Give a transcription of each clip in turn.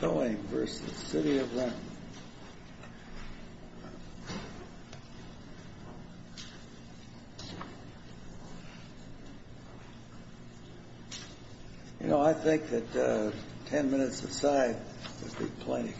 Towing v. City of Renton You know, I think that 10 minutes to the side would be plenty.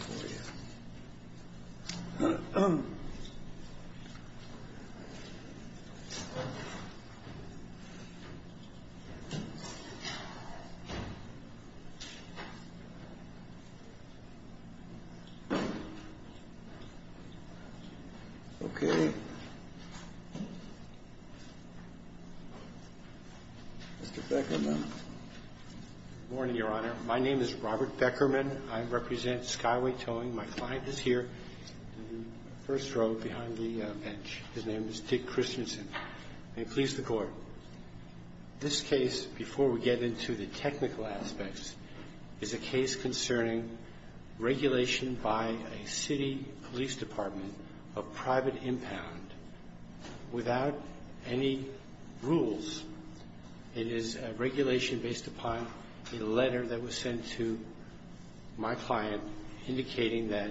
Okay. Mr. Beckerman. Good morning, Your Honor. My name is Robert Beckerman. I represent Skyway Towing. My client is here in the first row behind the bench. His name is Dick Christensen. May it please the Court. This case, before we get into the technical aspects, is a case concerning regulation by a city police department of private impound without any rules. It is a regulation based upon the letter that was sent to my client indicating that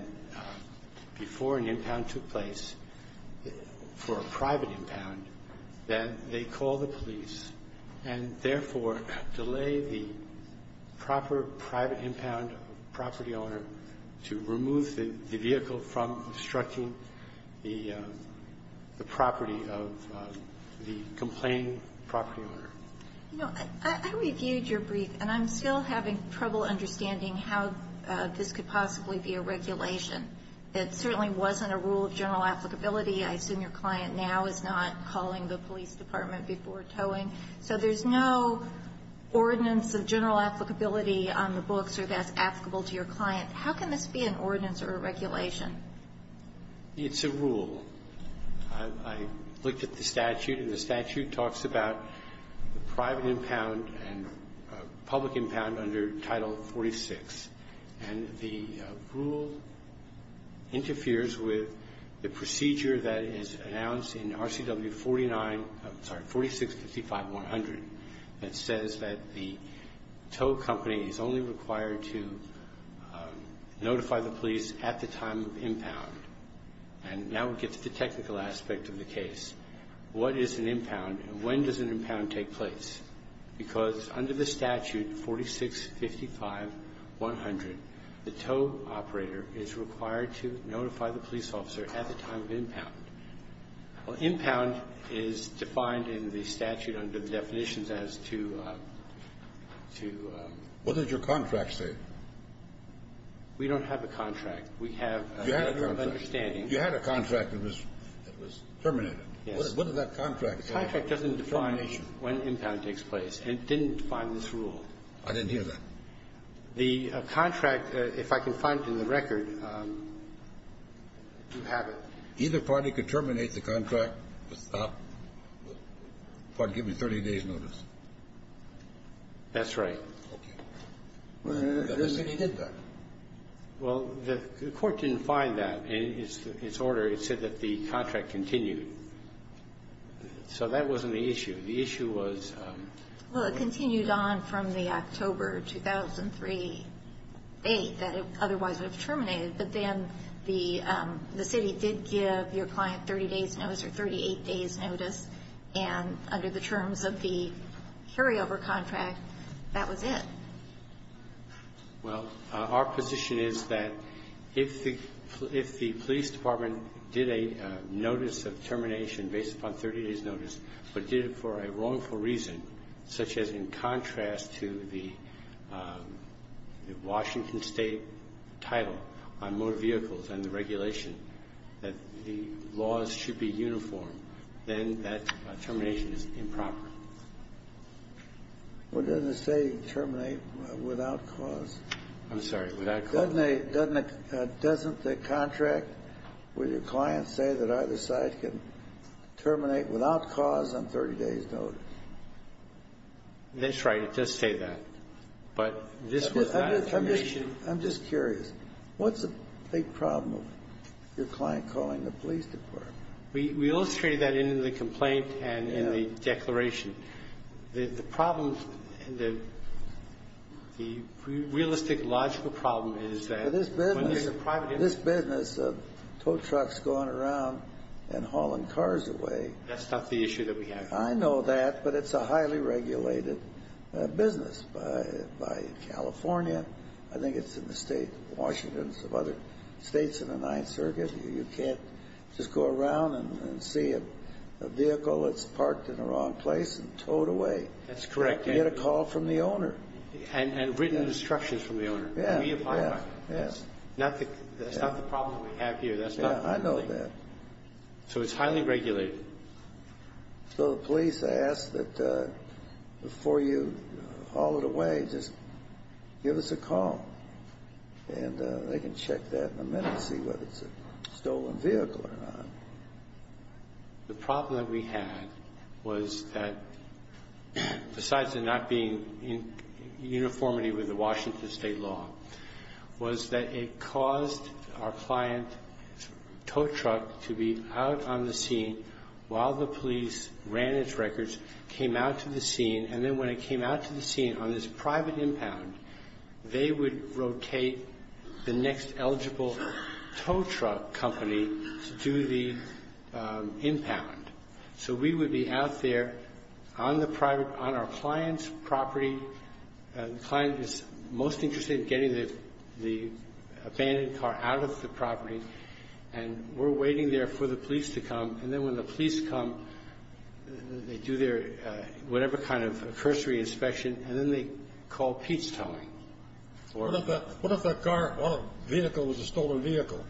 before an impound took place, for a private impound, that they call the police and therefore delay the proper private impound to remove the vehicle from obstructing the property of the complained property owner. And I'm still having trouble understanding how this could possibly be a regulation. It certainly wasn't a rule of general applicability. I assume your client now is not calling the police department before towing. So there's no ordinance of general applicability on the book that's applicable to your client. How can this be an ordinance or a regulation? It's a rule. I looked at the statute, and the statute talks about private impound and public impound under Title 46. And the rule interferes with the procedure that is announced in RCW 49 4655-100. It says that the tow company is only required to notify the police at the time of impound. And now we get to the technical aspect of the case. What is an impound and when does an impound take place? Because under the statute 46 55-100, the tow operator is required to notify the police officer at the time of impound. Well, impound is defined in the statute under definitions as to What does your contract say? We don't have a contract. We have a general understanding. You had a contract that was terminated. What does that contract say? The contract doesn't define when impound takes place. It didn't define this rule. I didn't hear that. The contract, if I can find it in the record, either party could terminate the contract by giving 30 days notice. That's right. Well, the court didn't find that in its order. It said that the contract continued. So that wasn't the issue. The issue was Well, it continues on from the October 2003 date that it otherwise would have terminated, but then the city did give your client 30 days notice or 38 days notice, and under the terms of the carryover contract, that was it. Our position is that if the police department did a notice of termination based upon 30 days notice but did it for a wrongful reason, such as in contrast to the Washington State title on more vehicles than the regulation, that the laws should be uniform, then that termination is improper. Well, doesn't it say terminate without cause? I'm sorry. Doesn't the contract with your client say that either side can terminate without cause on 30 days notice? That's right. It does say that. I'm just curious. What's the problem with your client calling the police department? We illustrated that in the complaint and in the declaration. The problem, the realistic logical problem is that this business of tow trucks going around and hauling cars away that's not the issue that we have. I know that, but it's a highly regulated business by California. I think it's in the state of Washington and some other states in the 9th Circuit. You can't just go around and see a vehicle that's parked in the wrong place and tow it away. That's correct. You get a call from the owner. And written instructions from the owner. That's not the problem we have here. I know that. It's highly regulated. The police ask that before you haul it away just give us a call. They can check that in a minute and see whether it's a stolen vehicle or not. The problem that we had was that besides it not being in uniformity with the Washington state law was that it caused our client's tow truck to be out on the scene while the police ran its records, came out to the scene, and then when it came out to the scene on this private impound, they would rotate the next eligible tow truck company to the impound. We would be out there on our client's property and the client is most interested in getting the abandoned car out of the property and we're waiting there for the police to come and then when the police come they do their whatever kind of cursory inspection and then they call Pete's towing. What if that car or vehicle was a stolen vehicle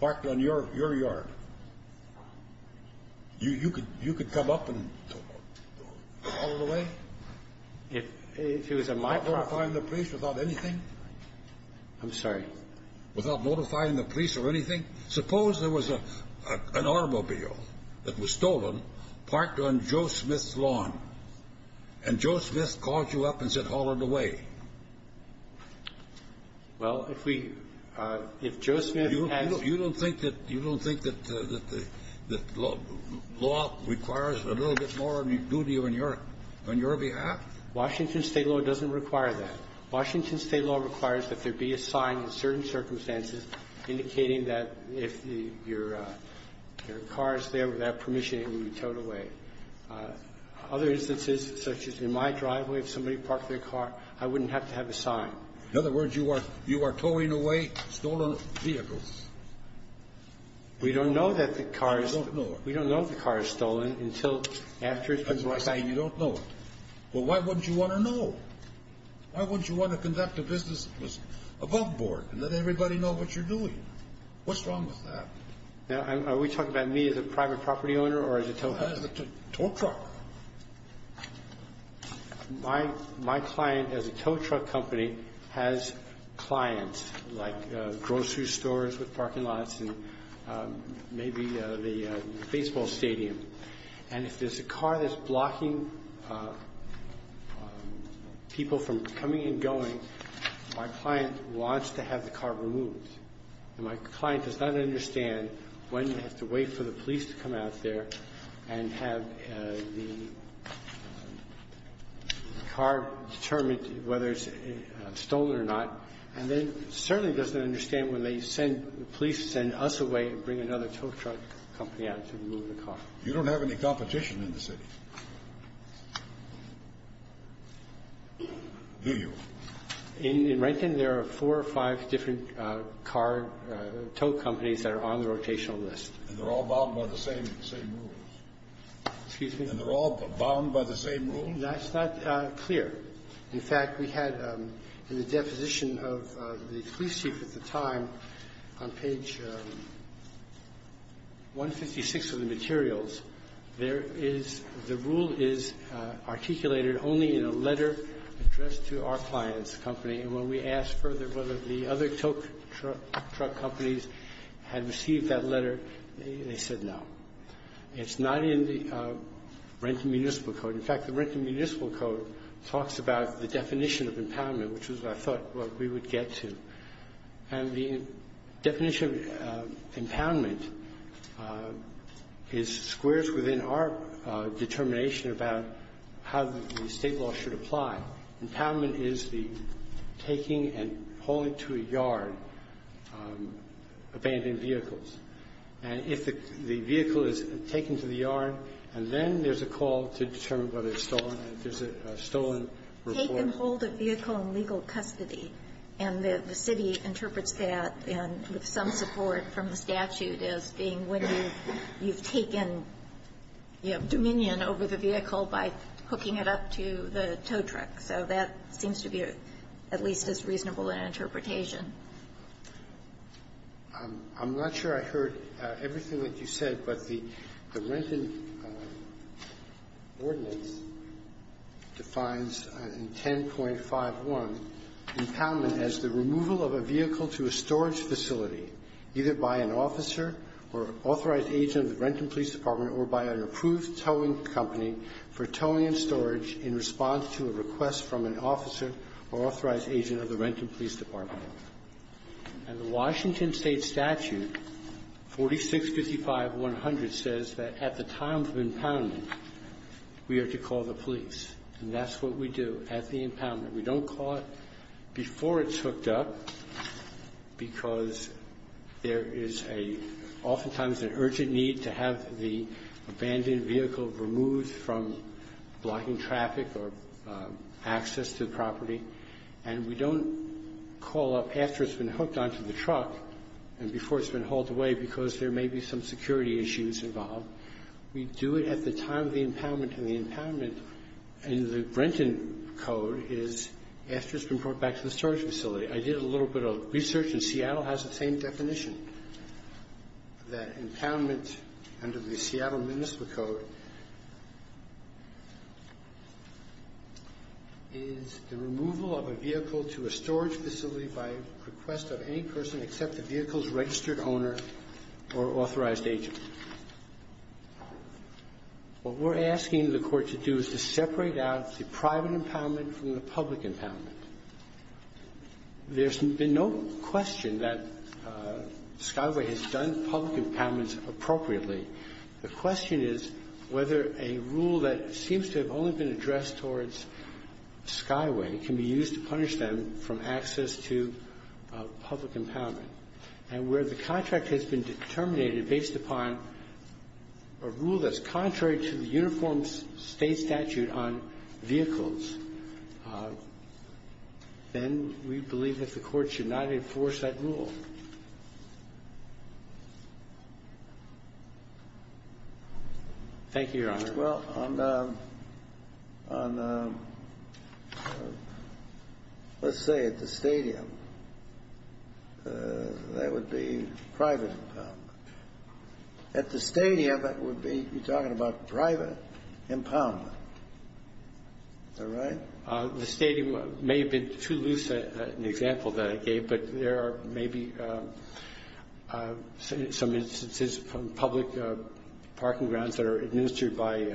parked on your yard? You could come up and haul it away? Without notifying the police about anything? I'm sorry? Without notifying the police about anything? Suppose there was an automobile that was stolen parked on Joe Smith's lawn and Joe Smith called you up and said haul it away. You don't think that law requires a little bit more than we do to you on your behalf? Washington state law doesn't require that. Washington state law requires that there be a sign in certain circumstances indicating that if your car is there without permission it will be towed away. Other instances such as in my driveway, if somebody parked their car, I wouldn't have to have a sign. In other words, you are towing away stolen vehicles? We don't know that the car is stolen until after it's been notified. But why wouldn't you want to know? Why wouldn't you want to conduct a business above board and let everybody know what you're doing? What's wrong with that? Are we talking about me as a private property owner or as a tow truck? My client as a tow truck company has clients like grocery stores with parking lots and maybe a baseball stadium. And if there's a car that's blocking people from coming and going, my client wants to have the car removed. My client does not understand when to wait for the police to come out there and have the car determined whether it's stolen or not. And then certainly doesn't understand when the police send us away and bring another tow truck company out to remove the car. You don't have any competition in the city? Do you? In Rankin, there are four or five different car tow companies that are on the rotational list. And they're all bound by the same rules? Excuse me? And they're all bound by the same rules? That's not clear. In fact, we had in the deposition of the police chief at the time on page 156 of the materials, the rule is articulated only in a letter addressed to our client's company. And when we asked further whether the other tow truck companies had received that letter, they said no. It's not in the Rankin Municipal Code. In fact, the Rankin Municipal Code talks about the definition of empowerment, which is what I thought we would get to. And the definition of empowerment is squares within our determination about how the state law should apply. Empowerment is the taking and pulling to a yard abandoned vehicles. And if the vehicle is taken to the yard, and then there's a call to determine whether it's stolen, there's a stolen report. Take and pull the vehicle in legal custody. And the city interprets that with some support from the statute as being whether you've taken dominion over the vehicle by hooking it up to the tow truck. So that seems to be at least as reasonable an interpretation. I'm not sure I heard everything that you said, but the Rankin ordinance defines in 10.51 empowerment as the removal of a vehicle to a storage facility either by an officer or authorized agent of the Rankin Police Department or by an approved towing company for towing and storage in response to a request from an officer or authorized agent of the Rankin Police Department. And the Washington state statute 4655-100 says that at the time of empowerment we are to call the police. And that's what we do at the impoundment. We don't call it before it's hooked up because there is oftentimes an urgent need to have the abandoned vehicle removed from blocking traffic or access to the property. And we don't call up after it's been hooked onto the truck and before it's been hauled away because there may be some security issues involved. We do it at the time of the impoundment. And the impoundment in the Rankin Code is after it's been brought back to the storage facility. I did a little bit of research and Seattle has the same definition. The impoundment under the Seattle Municipal Code is the removal of a vehicle to a storage facility by request of any person except the vehicle's registered owner or owner. What we're asking the court to do is to separate out the private impoundment from the public impoundment. There's no question that Skyway has done public impoundments appropriately. The question is whether a rule that seems to have only been addressed towards Skyway can be used to punish them for access to public impoundment. And where the contract has been terminated based upon a rule that's contrary to the Uniform State Statute on vehicles. Then we believe that the court should not enforce that rule. Thank you, Your Honor. Let's say it's a stadium. That would be private impoundment. At the stadium, that would be private impoundment. The stadium may have been too loose in the example that I gave, but there are maybe some instances from public parking grounds that are administered by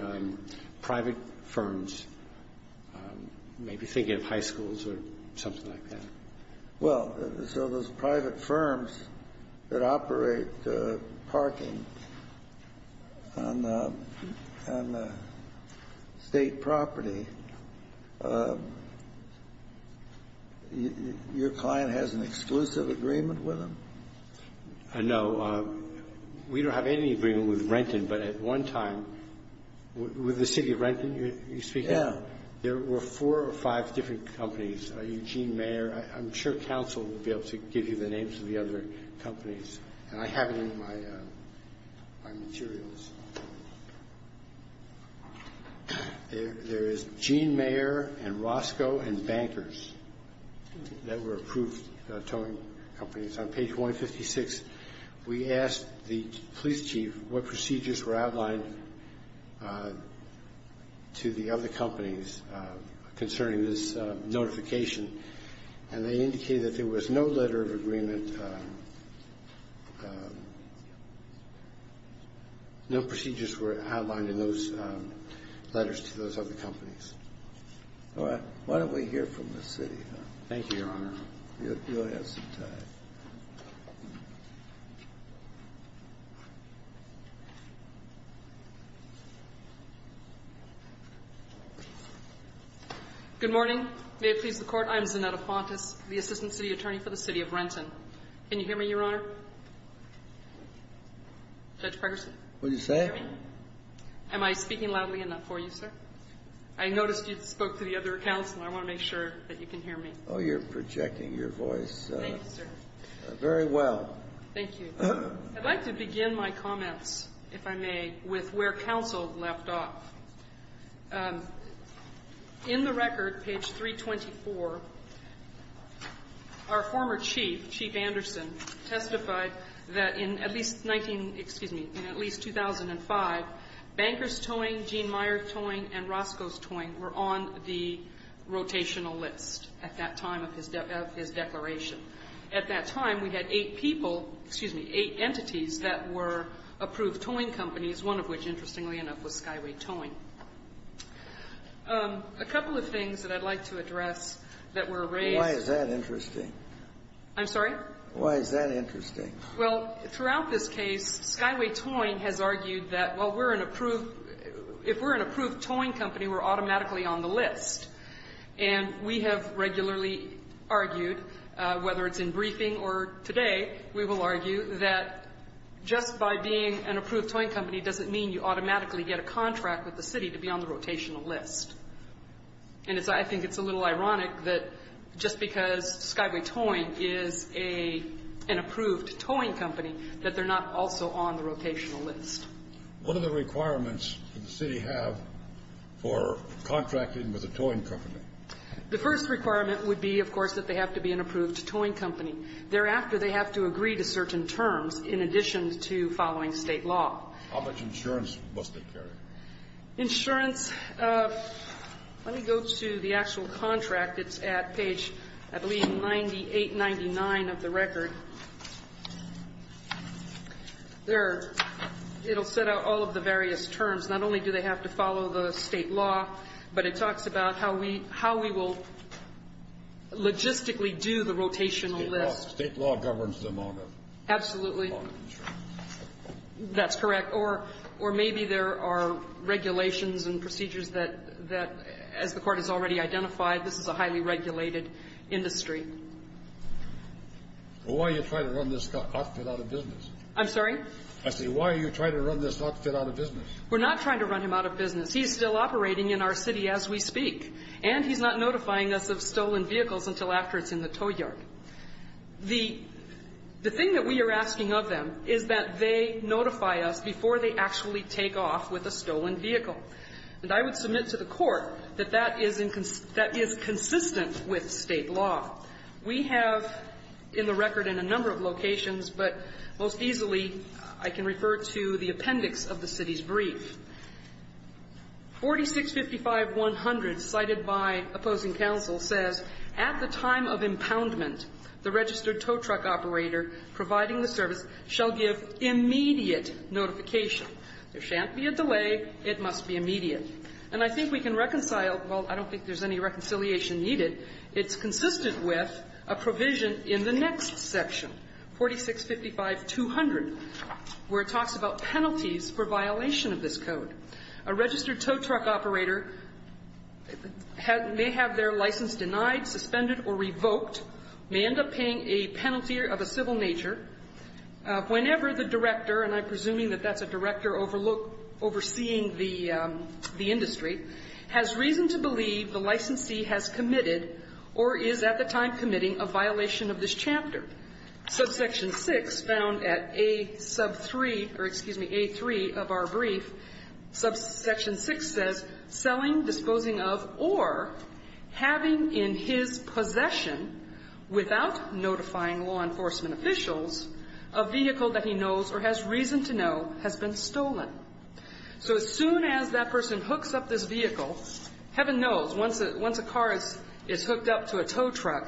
private firms. Maybe think of high schools or something like that. Those private firms that operate parking on the state property, your client has an exclusive agreement with them? No. We don't have any agreement with Renton, but at one time with the city of Renton, there were four or five different companies. I'm sure counsel will be able to give you the names of the other companies. I have them in my materials. There is Gene Mayer and Roscoe and Bankers. They were approved towing companies. On page 156, we asked the police chief what procedures were outlined to the other companies concerning this notification. They indicated there was no letter of agreement. No procedures were outlined in those letters to those other companies. Why don't we hear from the city? Thank you, Your Honor. Good morning. I'm the assistant city attorney for the city of Renton. Can you hear me, Your Honor? What did you say? I noticed you spoke to the other counsel. I want to make sure you can hear me. You are projecting your voice very well. Thank you. I would like to begin my comments with where counsel left off. In the record, page 324, our former chief, Chief Anderson, testified that in at least 2005, Bankers towing, Gene Mayer towing, and Roscoe towing were on the rotational list at that time of his declaration. At that time, we had eight entities that were approved towing companies, one of which, interestingly enough, was Skyway Towing. A couple of things that I'd like to address that were raised... Why is that interesting? I'm sorry? Why is that interesting? Well, throughout this case, Skyway Towing has argued that if we're an approved towing company, we're automatically on the list. We have regularly argued, whether it's in briefing or today, we will argue that just by being an approved towing company doesn't mean you automatically get a contract with the city to be on the rotational list. I think it's a little ironic that just because Skyway Towing is an approved towing company that they're not also on the rotational list. What are the requirements that the city have for contracting with a towing company? The first requirement would be, of course, that they have to be an approved towing company. Thereafter, they have to agree to certain terms in addition to following state law. How much insurance must they carry? Insurance... Let me go to the actual contract. It's at page, I believe, 98-99 of the record. It'll set out all of the various terms. Not only do they have to follow the state law, but it talks about how we will logistically do the rotational list. State law governs them all. Absolutely. That's correct. Or maybe there are regulations and procedures that, as the court has already identified, this is a highly regulated industry. Why are you trying to run this outfit out of business? I'm sorry? I said, why are you trying to run this outfit out of business? We're not trying to run him out of business. He is still operating in our city as we speak. And he's not notifying us of stolen vehicles until after it's in the tow yard. The thing that we are asking of them is that they notify us before they actually take off with a stolen vehicle. And I would submit to the court that that is consistent with state law. We have, in the record, in a number of locations, but most easily, I can refer to the appendix of the city's brief. 4655-100 cited by opposing counsel says, at the time of impoundment, the registered tow truck operator providing the service shall give immediate notification. There shan't be a delay. It must be immediate. And I think we can reconcile, well, I don't think there's any reconciliation needed. It's consistent with a provision in the next section, 4655-200, where it talks about penalties for violation of this code. A registered tow truck operator may have their license denied, suspended, or revoked, may end up paying a penalty of a civil nature, whenever the director, and I'm presuming that that's a director overseeing the industry, has reason to believe the licensee has committed or is at the time committing a violation of this chapter. Subsection 6, found at A3 of our brief, subsection 6 says selling, disposing of, or having in his possession, without notifying law enforcement officials, a vehicle that he knows or has reason to know has been stolen. So as soon as that person hooks up this vehicle, heaven knows, once a car is hooked up to a tow truck,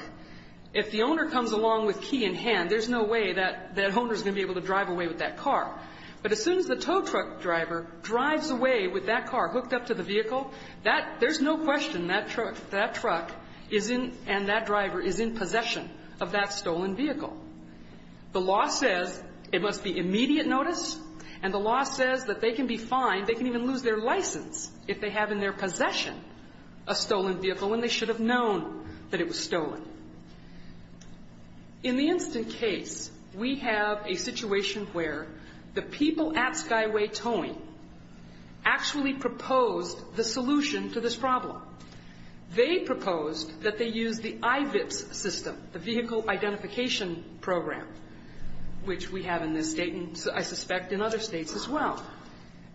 if the owner comes along with key in hand, there's no way that owner is going to be able to drive away with that car. But as soon as the tow truck driver drives away with that car hooked up to the vehicle, there's no question that truck and that driver is in possession of that stolen vehicle. The law says it must be immediate notice, and the law says that they can be fined, they can even lose their license if they have in their possession a stolen vehicle when they should have known that it was stolen. In the instance case, we have a situation where the people at Skyway Towing actually proposed the solution to this problem. They proposed that they use the IBIS system, the Vehicle Identification Program, which we have in this state and I suspect in other states as well.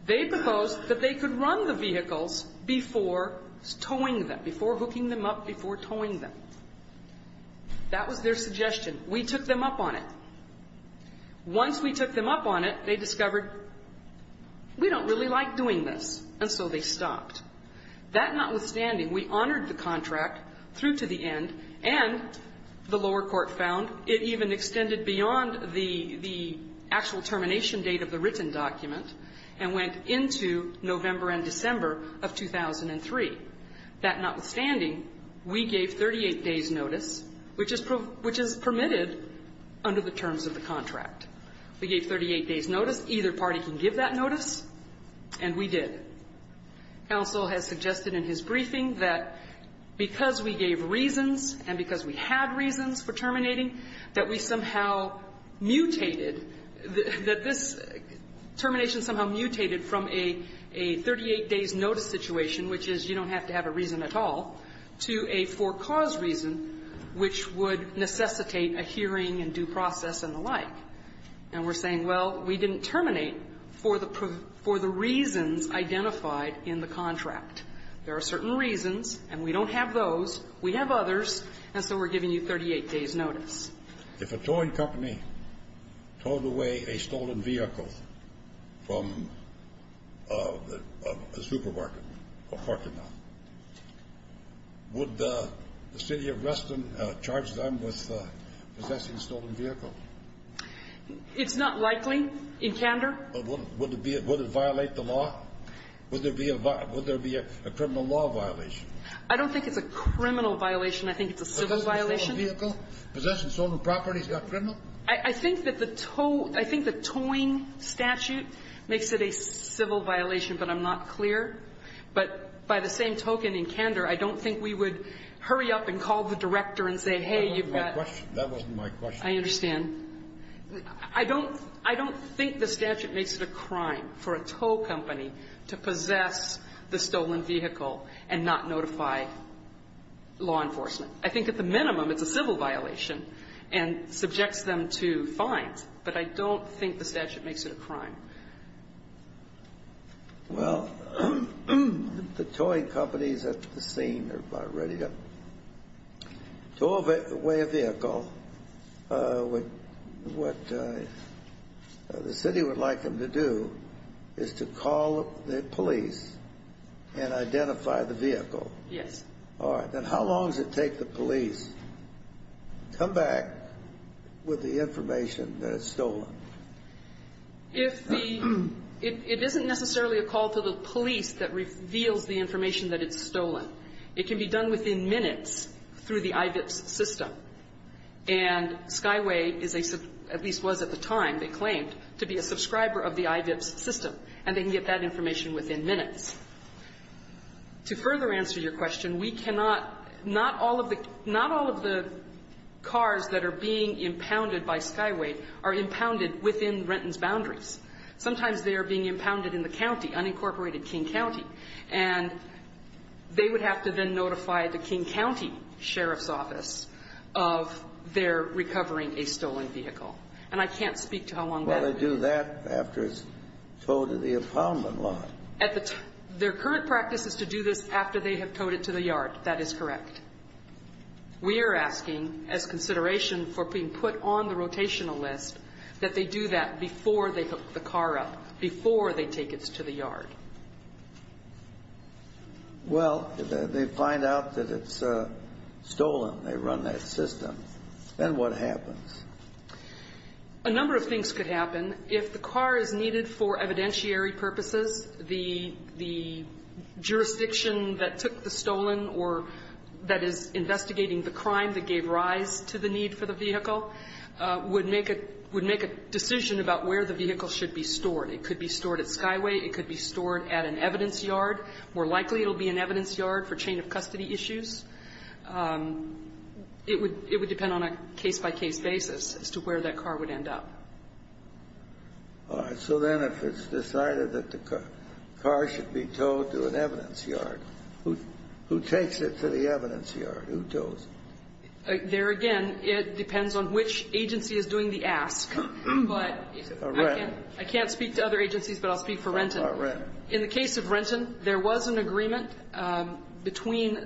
They proposed that they could run the vehicles before towing them, before hooking them up, before towing them. That was their suggestion. We took them up on it. Once we took them up on it, they discovered we don't really like doing this, and so they stopped. That notwithstanding, we honored the contract through to the end, and the lower court found it even extended beyond the actual termination date of the written document and went into November and December. That notwithstanding, we gave 38 days notice, which is permitted under the terms of the contract. We gave 38 days notice. Either party can give that notice, and we did. Counsel has suggested in his briefing that because we gave reasons and because we had reasons for terminating, that we somehow mutated, that this termination somehow mutated from a 38 days notice situation, which is you don't have to have a reason at all, to a for-cause reason, which would necessitate a hearing and due process and the like. And we're saying, well, we didn't terminate for the reasons identified in the contract. There are certain reasons, and we don't have those. We have others, and so we're giving you 38 days notice. If a towing company towed away a stolen vehicle from a supermarket or parking lot, would the city of Reston charge them with possessing a stolen vehicle? It's not likely in candor. Would it violate the law? Would there be a criminal law violation? I don't think it's a criminal violation. I think it's a civil violation. Possessing a stolen vehicle? Possessing stolen property? Is that criminal? I think that the towing statute makes it a civil violation, but I'm not clear. But by the same token, in candor, I don't think we would hurry up and call the director and say, hey, you've got... That wasn't my question. I understand. I don't think the statute makes it a crime for a tow company to possess the stolen vehicle and not notify law enforcement. I think at the minimum, it's a civil violation and subject them to what makes it a crime. Well, the towing companies at the scene are ready to tow away a vehicle. What the city would like them to do is to call the police and identify the vehicle. And how long does it take the police to come back with the information that it's stolen? It isn't necessarily a call to the police that reveals the information that it's stolen. It can be done within minutes through the IBIPS system. And Skyway, at least was at the time, they claimed, to be a subscriber of the IBIPS system. And they can get that information within minutes. To further answer your question, we cannot... Not all of the cars that are being impounded by Skyway are impounded within Renton's boundaries. Sometimes they're being impounded in the county, unincorporated King County. And they would have to then notify the King County Sheriff's Office of their recovering a stolen vehicle. And I can't speak to how long that... Well, they do that after it's towed to the impoundment location. Their current practice is to do this after they have towed it to the yard. That is correct. We are asking, as consideration for being put on the rotational list, that they do that before they hook the car up. Before they take it to the yard. Well, they find out that it's stolen. They run that system. Then what happens? A number of things could happen. If the car is needed for evidentiary purposes, the jurisdiction that took the stolen or that is investigating the crime that gave rise to the need for the vehicle would make a decision about where the vehicle should be stored. It could be stored at Skyway. It could be stored at an evidence yard. More likely it will be an evidence yard for chain of custody issues. It would depend on a case-by-case basis as to where that car would end up. All right. So then if it's decided that the car should be taken, who takes it to the evidence yard? There again, it depends on which agency is doing the ask. I can't speak to other agencies, but I'll speak for Renton. In the case of Renton, there was an agreement between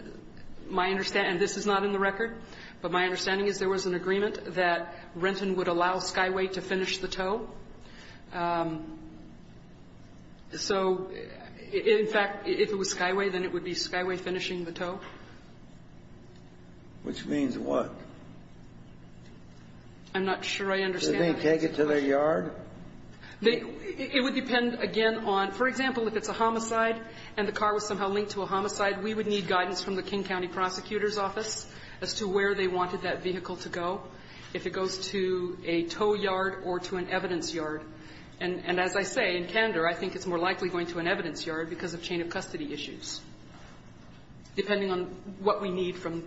my understanding, and this is not in the record, but my understanding is there was an agreement that Renton would allow Skyway to finish the tow. So, in fact, if it was Skyway, then it would be Skyway finishing the tow. Which means what? I'm not sure I understand. It would depend again on, for example, if it's a homicide and the car was somehow linked to a homicide, we would need guidance from the King County Prosecutor's Office as to where they wanted that vehicle to go. If it goes to a tow yard or to an evidence yard. And as I say, in Tender, I think it's more likely going to an evidence yard because of chain of custody issues. Depending on what we need from,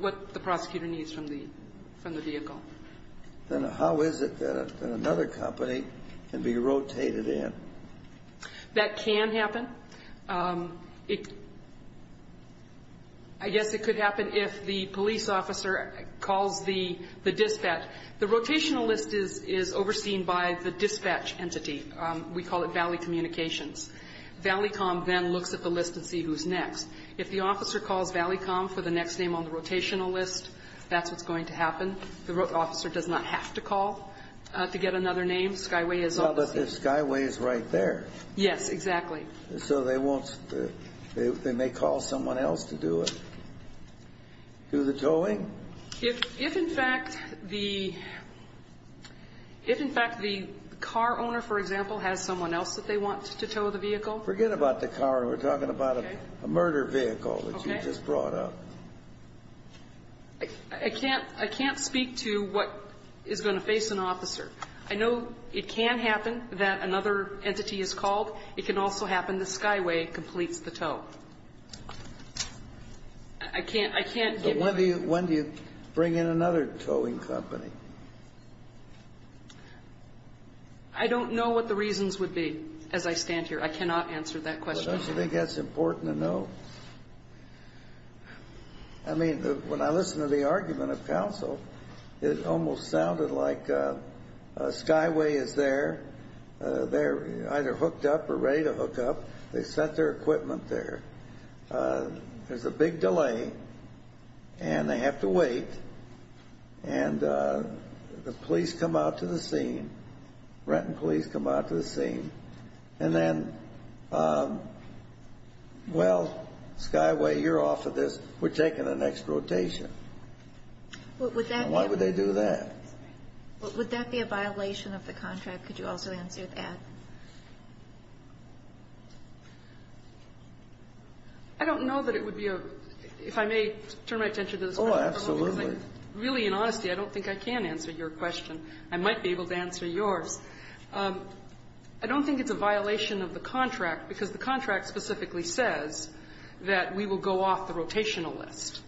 what the prosecutor needs from the vehicle. Then how is it that another company can be rotated in? That can happen. I guess it could happen if the police officer called the dispatch. The rotational list is overseen by the dispatch entity. We call it Valley Communications. Valley Com then looks at the list to see who's next. If the officer calls Valley Com for the next name on the rotational list, that's what's going to happen. The officer does not have to call to get another name. Skyway is right there. Yes, exactly. They may call someone else to do it. Do the towing? If in fact the car owner for example has someone else that they want to tow the vehicle. Forget about the car. We're talking about a murder vehicle that you just brought up. I can't speak to what is going to face an officer. I know it can happen that another entity is called. It can also happen that Skyway completes the tow. When do you bring in another towing company? I don't know what the reasons would be as I stand here. I cannot answer that question. Don't you think that's important to know? When I listen to the argument of counsel, it almost sounded like Skyway is there. They're either hooked up or ready to hook up. They've set their equipment there. There's a big delay and they have to wait. The police come out to the scene. Then Skyway, you're off of this. We're taking the next rotation. Why would they do that? Would that be a violation of the contract? Could you answer that? I don't know that it would be. If I may turn my attention to this. Really, in honesty, I don't think I can answer your question. I might be able to answer yours. I don't think it's a violation of the contract because the contract specifically says that we will go off the rotational list.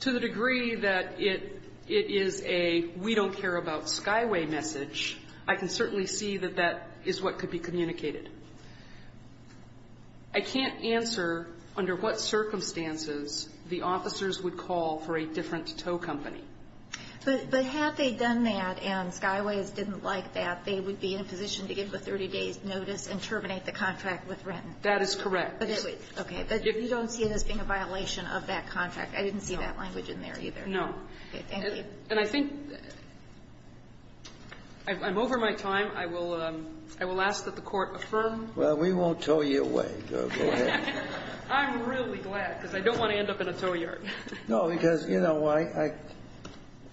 To the degree that it is a we don't care about Skyway message, I can certainly see that that is what could be communicated. I can't answer under what circumstances the officers would call for a different tow company. But had they done that and Skyway didn't like that, they would be in a position to give a 30 days notice and terminate the contract with rent. That is correct. But you don't see this being a violation of that contract. I didn't see that language in there either. I'm over my time. I will ask that the court affirm. We won't tow you away. I'm really glad because I don't want to end up in a tow yard.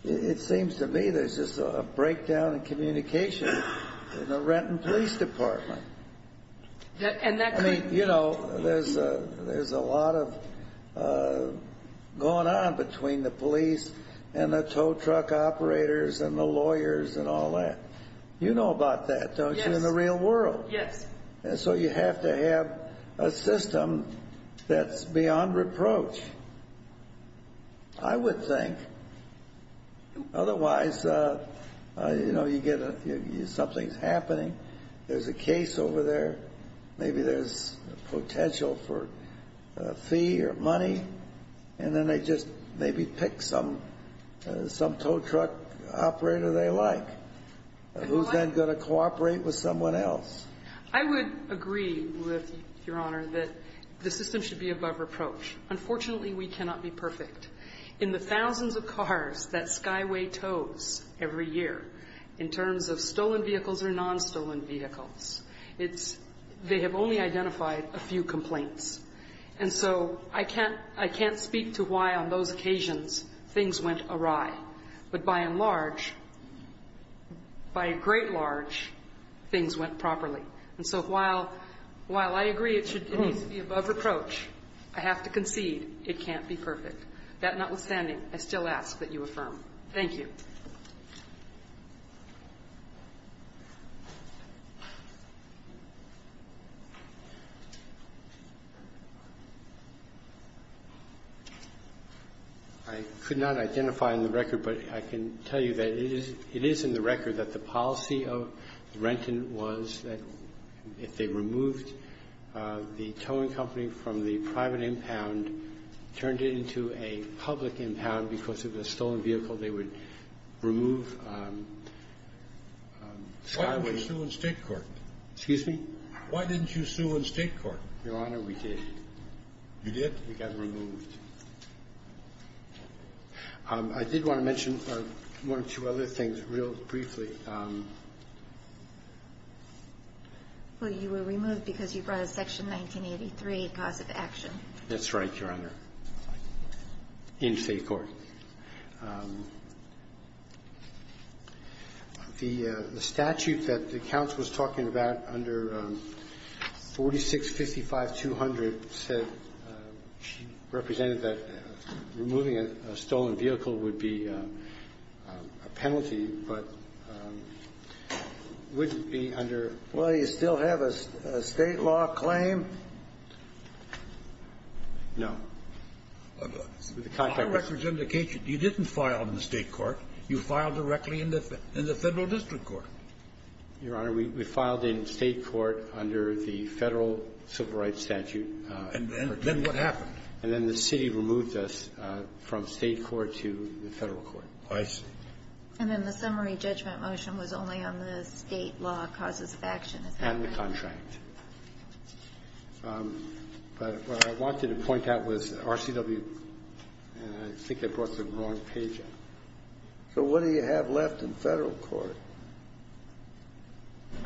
It seems to me there is a breakdown in communication in the Renton Police Department. There is a lot going on between the police and the tow truck operators and the lawyers and all that. You know about that, don't you, in the real world. You have to have a system that is beyond reproach. I would think. Otherwise, something is happening. There is a case over there. Maybe there is potential for a fee or money and then they just maybe pick some tow truck operator they like. Who is then going to cooperate with someone else? I would agree with your Honor that the system should be above reproach. Unfortunately, we cannot be perfect. In the thousands of cars that Skyway tows every year, in terms of stolen vehicles or non-stolen vehicles, they have only identified a few complaints. I can't speak to why on those occasions things went awry. But by and large, by great large, things went properly. While I agree it should be above reproach, I have to concede it can't be perfect. That notwithstanding, I still ask that you affirm. Thank you. I could not identify in the record, but I can tell you that it is in the record that the policy of Renton was that if they removed the towing company from the private impound, turned it into a public impound because it was a stolen vehicle, they would remove Skyway. Skyway is still in state court. Excuse me? Why didn't you sue in state court? Your Honor, we did. You did? It got removed. I did want to mention one or two other things real briefly. Well, you were removed because you brought up Section 1983, positive action. That's right, Your Honor. In state court. The statute that the counsel was talking about under 4655-200 said it represented that removing a stolen vehicle would be a penalty, but it wouldn't be under... Well, you still have a state law claim? No. My records indicate that you didn't file in the state court. You filed directly in the federal district court. Your Honor, we filed in state court under the federal civil rights statute. And then what happened? And then the city removed us from state court to the federal court. I see. And then the summary judgment motion was only on the state law causes of action. And the contract. But I wanted to point out with RCW, I think I brought the wrong page up. So what do you have left in federal court? I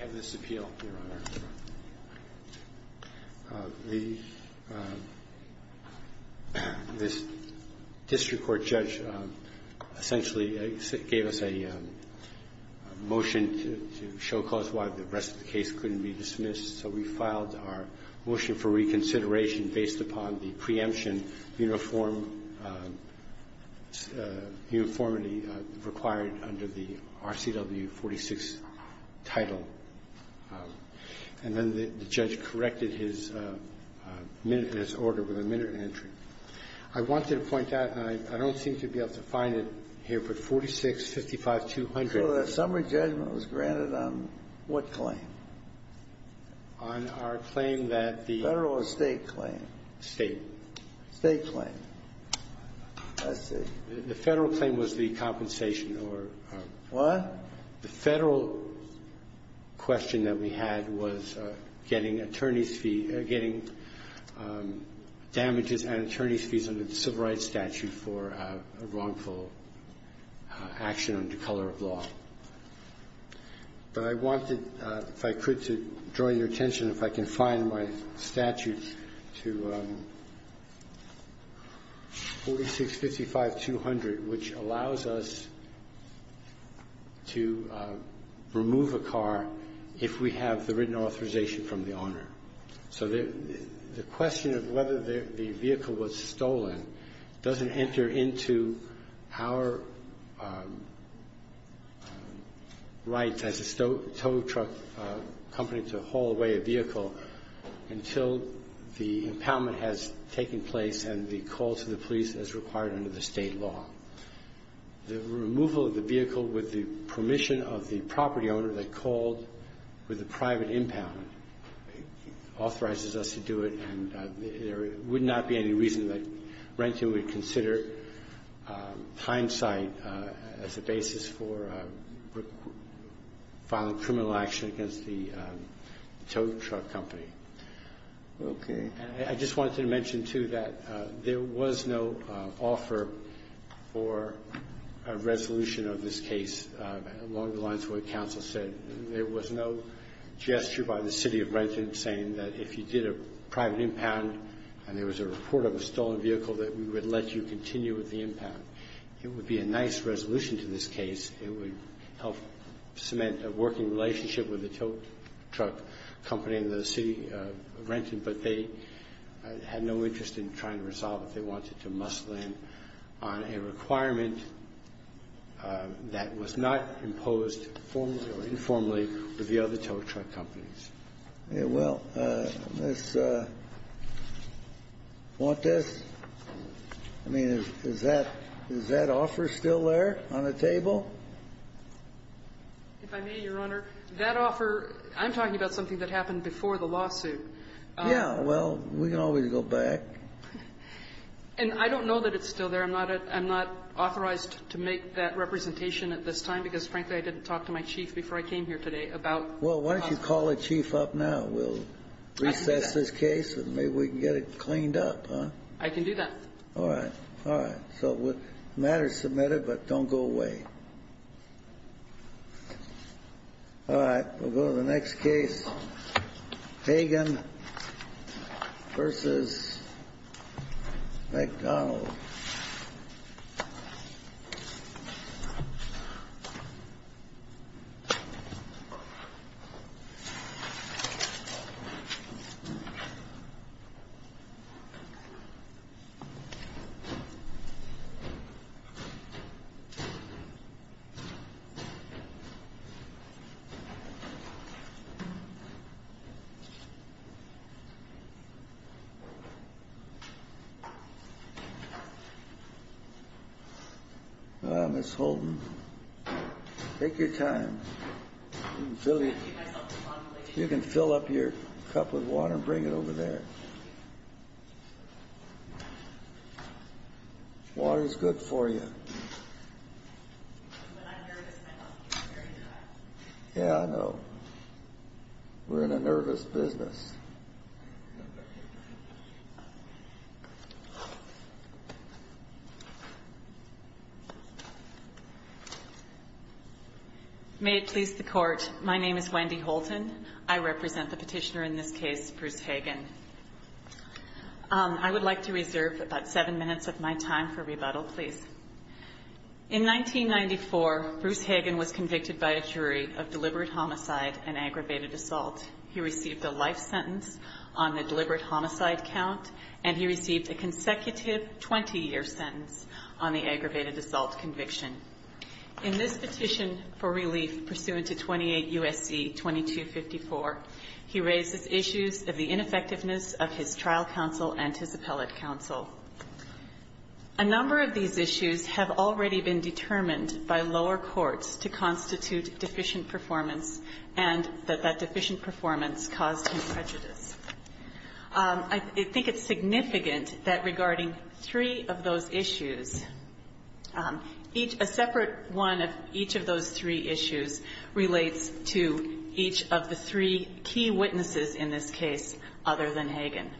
have this appeal. The district court judge essentially gave us a motion to show cause why the rest of the case couldn't be dismissed. So we filed our motion for reconsideration based upon the preemption uniformly required under the RCW 46 title. And then the judge corrected his minuteness order with a minute and entry. I wanted to point out, and I don't think you'll be able to find it here, but 4655-200... It was granted on what claim? Federal or state claim? State. State claim. That's it. The federal claim was the compensation. What? The federal question that we had was getting damages and attorney's fees under the civil rights statute for wrongful action under the color of law. But I wanted, if I could, to draw your attention, if I can find my statute to 4655-200, which allows us to remove a car if we have the written authorization from the owner. So the question of whether the vehicle was stolen doesn't enter into our rights as a tow truck company to haul away a vehicle until the impoundment has taken place and the call to the police is required under the state law. The removal of the vehicle with the permission of the property owner that called for the private impoundment authorizes us to do it, and there would not be any reason that there would be any time site as a basis for filing criminal action against the tow truck company. Okay. I just wanted to mention, too, that there was no offer for a resolution of this case along the lines of what counsel said. There was no gesture by the city of Brenton saying that if you did a private impound and there was a report of a stolen vehicle, that we would let you continue with the impound. It would be a nice resolution to this case. It would help cement a working relationship with the tow truck company in the city of Brenton, but they had no interest in trying to resolve it. They wanted to muscle in on a requirement that was not imposed formally or informally for the other tow truck companies. Yeah, well, want this? I mean, is that offer still there on the table? If I may, Your Honor, that offer, I'm talking about something that happened before the lawsuit. Yeah, well, we can always go back. And I don't know that it's still there. I'm not authorized to make that representation at this time because, frankly, I didn't talk to my chief before I came here today about... Well, why don't you call the chief up now? We'll reset this case and maybe we can get it cleaned up, huh? I can do that. All right. All right. So the matter is submitted, but don't go away. All right. We'll go to the next case. Pagan versus McDonald. All right, let's go. Take your time. You can fill up your cup with water and bring it over there. Water's good for you. Yeah, I know. We're in a nervous business. May it please the Court, my name is Wendy Holton. I represent the petitioner in this case, Bruce Pagan. I would like to reserve about seven minutes of my time for rebuttal, please. In 1994, Bruce Pagan was convicted by a jury of deliberate homicide and aggravated assault. He received a life sentence on the deliberate homicide count, and he received a consecutive 20-year sentence on the aggravated assault conviction. In this petition for relief pursuant to 28 U.S.C. 2254, he raises issues of the ineffectiveness of his trial counsel and his appellate counsel. A number of these issues have already been determined by lower courts to constitute deficient performance and that that deficient performance caused him prejudice. I think it's significant that regarding three of those issues, a separate one of each of those three issues relates to each of the three key witnesses in this case other than Pagan.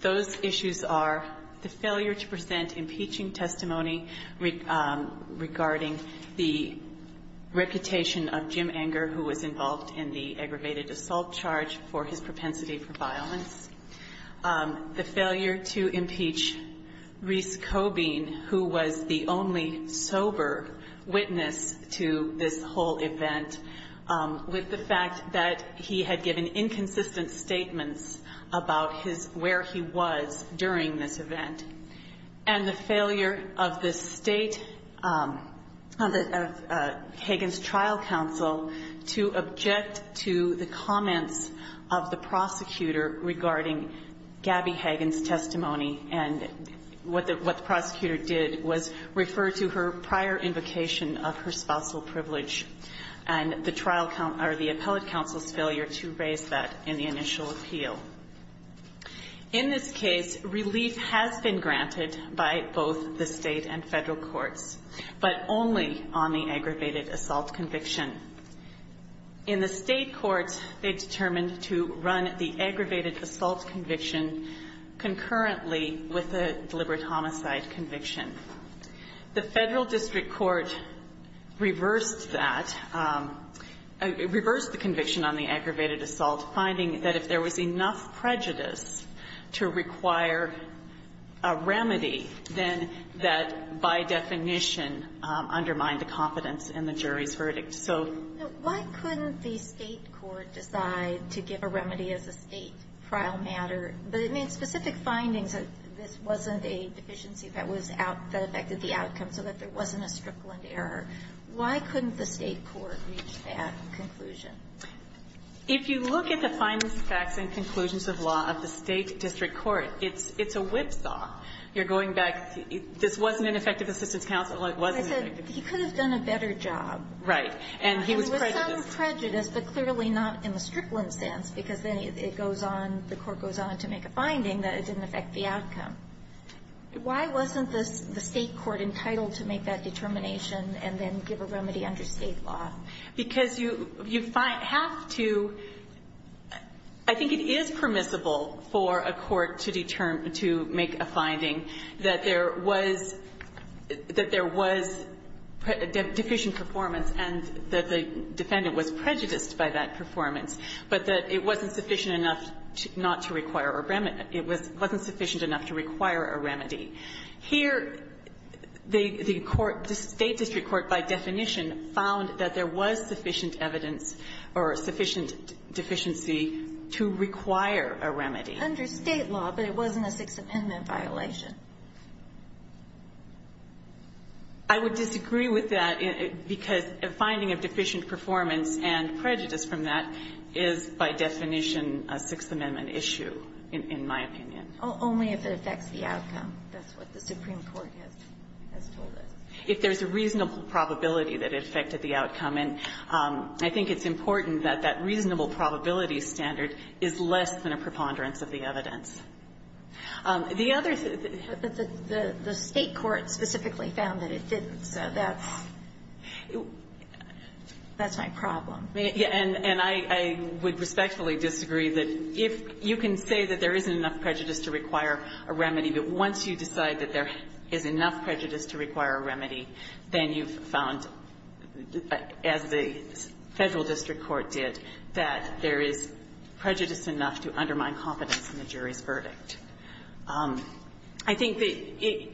Those issues are the failure to present impeaching testimony regarding the reputation of Jim Enger, who was involved in the aggravated assault charge for his propensity for violence, the failure to impeach Reece Cobean, who was the only sober witness to this whole event, with the fact that he had given inconsistent statements about where he was during this event, and the failure of Pagan's trial counsel to object to the comments of the prosecutor regarding Gabby Hagen's testimony and what the prosecutor did was refer to her prior invocation of her spousal privilege and the appellate counsel's failure to raise that in the initial appeal. In this case, relief has been granted by both the state and federal courts, but only on the aggravated assault conviction. In the state courts, they determined to run the aggravated assault conviction concurrently with the deliberate homicide conviction. The federal district court reversed that, reversed the conviction on the aggravated assault, finding that if there was enough prejudice to require a remedy, then that, by definition, undermined the jury's verdict. Why couldn't the state court decide to give a remedy of the state trial matter? But it made specific findings that this wasn't a deficiency that was going to affect the outcome, so that there wasn't a strickland error. Why couldn't the state court reach that conclusion? If you look at the findings, facts, and conclusions of law of the state district court, it's a whipsaw. This wasn't an effective assistance counsel. He could have done a better job. It was prejudice, but clearly not in a strickland sense, because the court goes on to make a finding that it didn't affect the outcome. Why wasn't the state court entitled to make that determination and then give a remedy under state law? I think it is permissible for a court to make a finding that there was deficient performance and that the defendant was prejudiced by that performance, but that it wasn't sufficient enough not to require a remedy. It wasn't sufficient enough to require a remedy. Here, the state district court, by definition, found that there was sufficient evidence or sufficient deficiency to require a remedy. Under state law, but it wasn't a Sixth Amendment violation. I would disagree with that because a finding of deficient performance and prejudice from that is, by definition, a Sixth Amendment issue, in my opinion. Only if it affects the outcome, that's what the Supreme Court has told us. If there's a reasonable probability that it affected the outcome, and I think it's important that that reasonable probability standard is less than a preponderance of the evidence. The state court specifically found that it did. That's my problem. I would respectfully disagree. You can say that there isn't enough prejudice to require a remedy, but once you decide that there is enough prejudice to require a remedy, then you've found, as the federal district court did, that there is prejudice enough to undermine confidence in the jury's verdict. I think that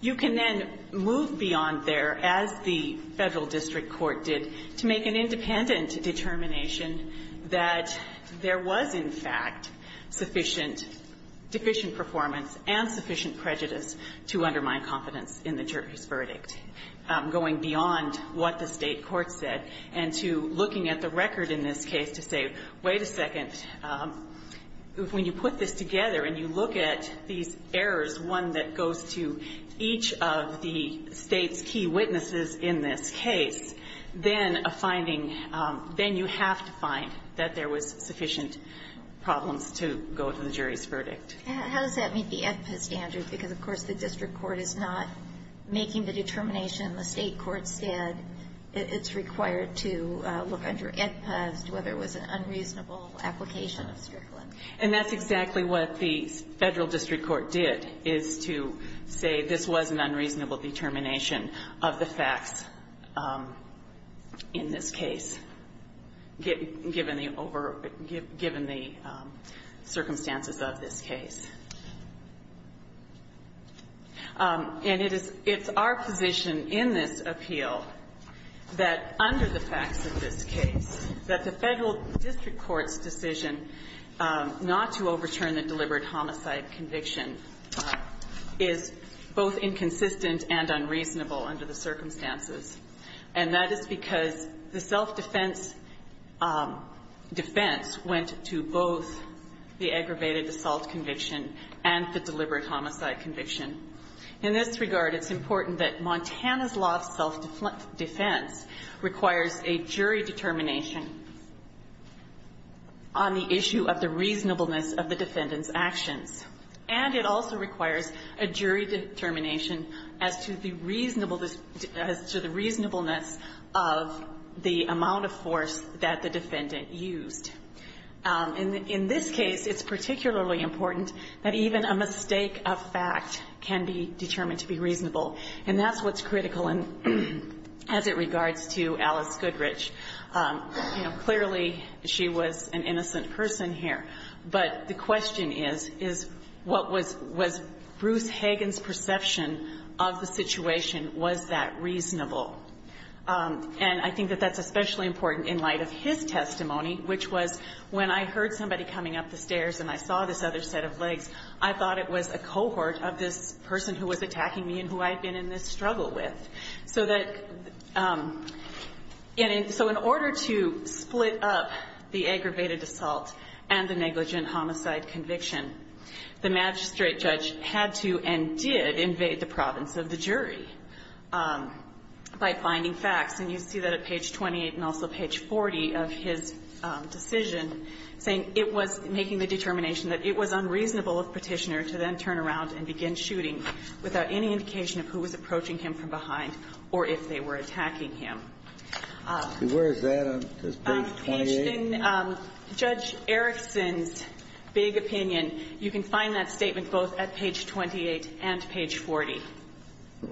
you can then move beyond there, as the federal district court did, to make an independent determination that there was, in fact, sufficient performance and sufficient prejudice to undermine confidence in the jury's verdict, going beyond what the state court said and to looking at the record in this case to say, wait a second, when you put this together and you look at these errors, one that goes to each of the state's key witnesses in this case, then you have to find that there was sufficient problems to go with the jury's verdict. How does that meet the ESPA standards? Because, of course, the district court is not making the determination the state court did. It's required to look under ESPA to see whether it was an unreasonable application. And that's exactly what the federal district court did, is to say this was an unreasonable determination of the facts in this case, given the circumstances of this case. It's our position in this appeal that under the facts of this case, that the federal district court's decision not to overturn the deliberate homicide conviction is both inconsistent and unreasonable under the circumstances. And that is because the self-defense defense went to both the aggravated assault conviction and the deliberate homicide conviction. In this regard, it's important that Montana's law of self-defense requires a jury determination on the issue of the reasonableness of the defendant's action. And it also requires a jury determination as to the reasonableness of the amount of force that the defendant used. In this case, it's particularly important that even a mistake of fact can be determined to be reasonable. And that's what's critical as it regards to Alice Goodrich. Clearly, she was an innocent person here. But the question is, was Ruth Hagen's perception of the situation, was that reasonable? And I think that that's especially important in light of his testimony, which was, when I heard somebody coming up the stairs and I saw this other set of legs, I thought it was a cohort of this person who was attacking me and who I'd been in this struggle with. So in order to split up the aggravated assault and the negligent homicide conviction, the magistrate judge had to, and did, invade the province of the jury by finding facts. And you see that at page 28 and also page 40 of his decision saying it was making the determination that it was unreasonable of the petitioner to then turn around and begin shooting without any indication of who was approaching him from behind or if they were attacking him. Where is that on page 28? Judge Erickson's big opinion, you can find that statement both at page 28 and page 40.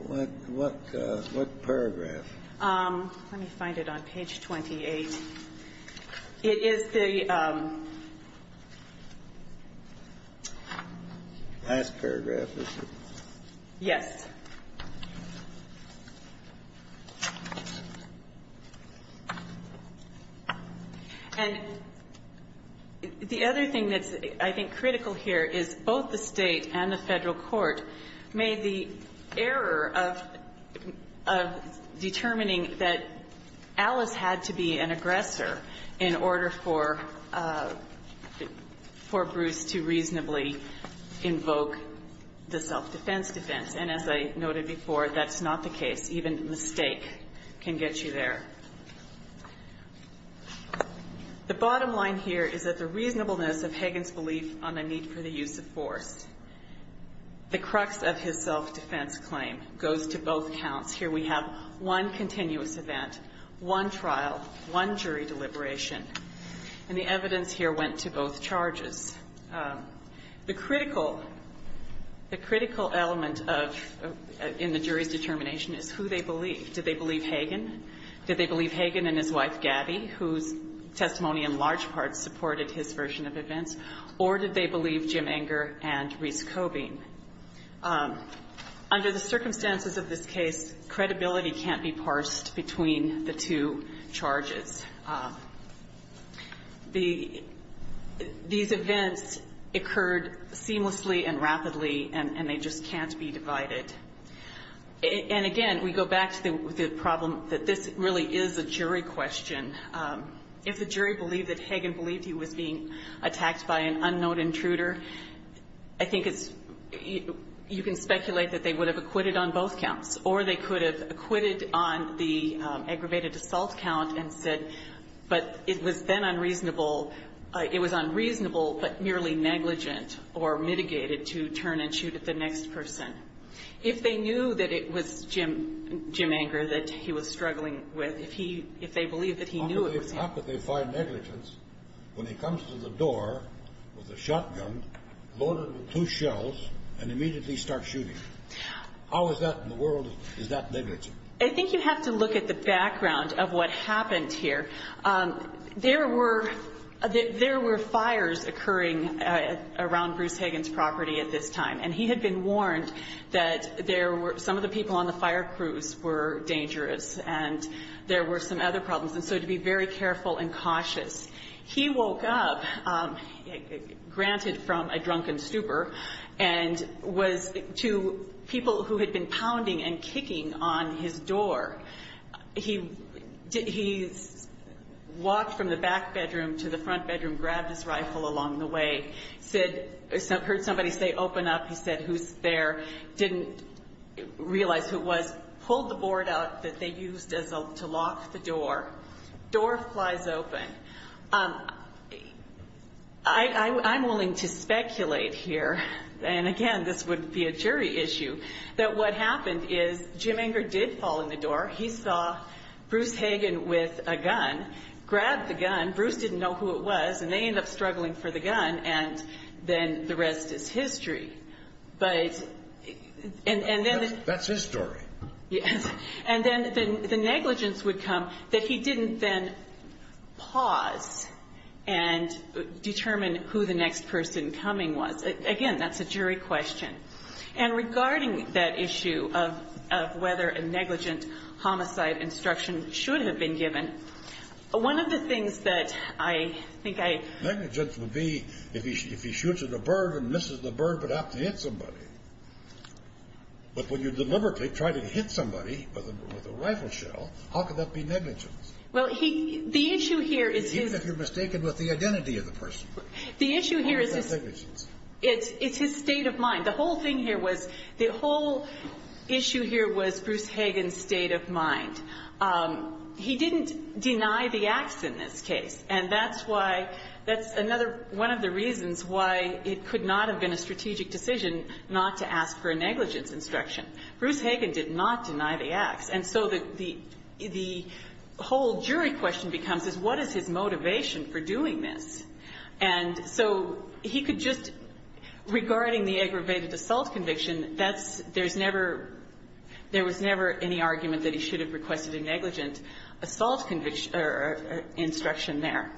What paragraph? Let me find it on page 28. It is the Last paragraph. Yes. And the other thing that's, I think, critical here is both the state and the federal court made the error of determining that it was an aggressor in order for Bruce to reasonably invoke the self-defense defense. And as I noted before, that's not the case. Even the state can get you there. The bottom line here is that the reasonableness of Hagan's belief on the need for the use of force, the crux of his self-defense claim goes to both counts. Here we have one continuous event, one trial, one jury deliberation. And the evidence here went to both charges. The critical element in the jury's determination is who they believe. Did they believe Hagan? Did they believe Hagan and his wife, Gabby, whose testimony in large part supported his version of events? Or did they believe Jim Enger and Reese Cobing? Under the circumstances of this case, credibility can't be parsed between the two charges. These events occurred seamlessly and rapidly, and they just can't be divided. And again, we go back to the problem that this really is a jury question. If the jury believed that Hagan believed he was being attacked by an unknown intruder, I think you can speculate that they would have acquitted on both counts. Or they could have acquitted on the aggravated assault count and said, but it was then unreasonable but merely negligent or mitigated to turn and shoot at the next person. If they knew that it was Jim Enger that he was struggling with, if they believed that he knew it was him. How could they find negligence when he comes to the door with a shotgun, loaded with two shells, and immediately starts shooting? How is that in the world? Is that negligent? I think you have to look at the background of what happened here. There were fires occurring around Bruce Hagan's property at this time. And he had been warned that some of the people on the fire crews were dangerous, and there were some other problems. And so to be very careful and cautious. He woke up, granted from a drunken stupor, and was to people who had been pounding and kicking on his door. He walked from the back bedroom to the front bedroom, grabbed his rifle along the way. He heard somebody say, open up. He said, who's there? Didn't realize who it was. Pulled the board out that they used to lock the door. Door slides open. I'm willing to speculate here, and again, this would be a jury issue, that what happened is Jim Enger did fall in the door. He saw Bruce Hagan with a gun. Grabbed the gun. Bruce didn't know who it was. And they ended up struggling for the gun, and then the rest is history. That's his story. And then the negligence would come that he didn't then pause and determine who the next person coming was. Again, that's a jury question. And regarding that issue of whether a negligence homicide instruction should have been given, one of the things that I think I... Negligence would be if he shoots at a bird and misses the bird without hitting somebody. But when you deliberately try to hit somebody with a rifle shell, how could that be negligence? Even if you're mistaken with the identity of the person. It's his state of mind. The whole thing here was, the whole issue here was Bruce Hagan's state of mind. He didn't deny the acts in this case, and that's why that's another one of the reasons why it could not have been a strategic decision not to ask for a negligence instruction. Bruce Hagan did not deny the acts. And so the whole jury question becomes, what is his motivation for doing this? And so he could just, regarding the aggravated assault conviction, there was never any argument that he should have requested a negligence assault instruction there.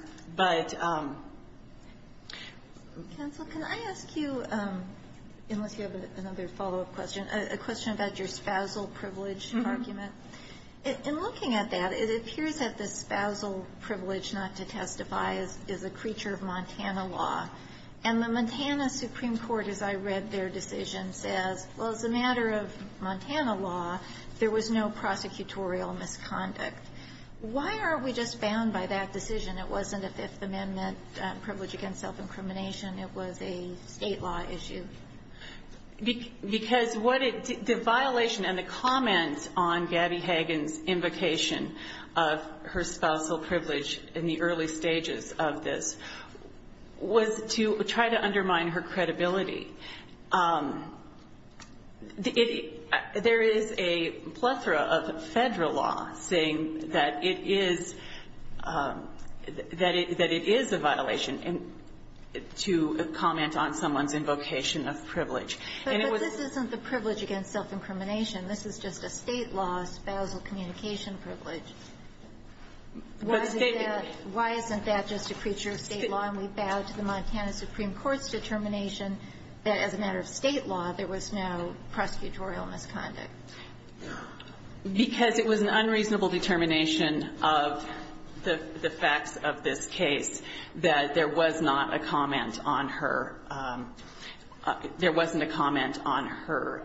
Counsel, can I ask you, unless you have another follow-up question, a question about your spousal privilege argument? In looking at that, it appears that the spousal privilege not to testify is a creature of Montana law. And the Montana Supreme Court, as I read their decision, said, well, as a matter of Montana law, there was no prosecutorial misconduct. Why are we just bound by that decision? It wasn't a Fifth Amendment privilege against self-incrimination. It was a state law issue. Because the violation and the comment on Gabby Hagan's invocation of her spousal privilege in the early stages of this was to try to undermine her credibility. There is a plethora of federal law saying that it is a violation to comment on someone's invocation of privilege. But this isn't a privilege against self-incrimination. This is just a state law spousal communication privilege. Why isn't that just a creature of state law, and we bow to the Montana Supreme Court's determination that, as a matter of state law, there was no prosecutorial misconduct? Because it was an unreasonable determination of the facts of this case that there was not a comment on her there wasn't a comment on her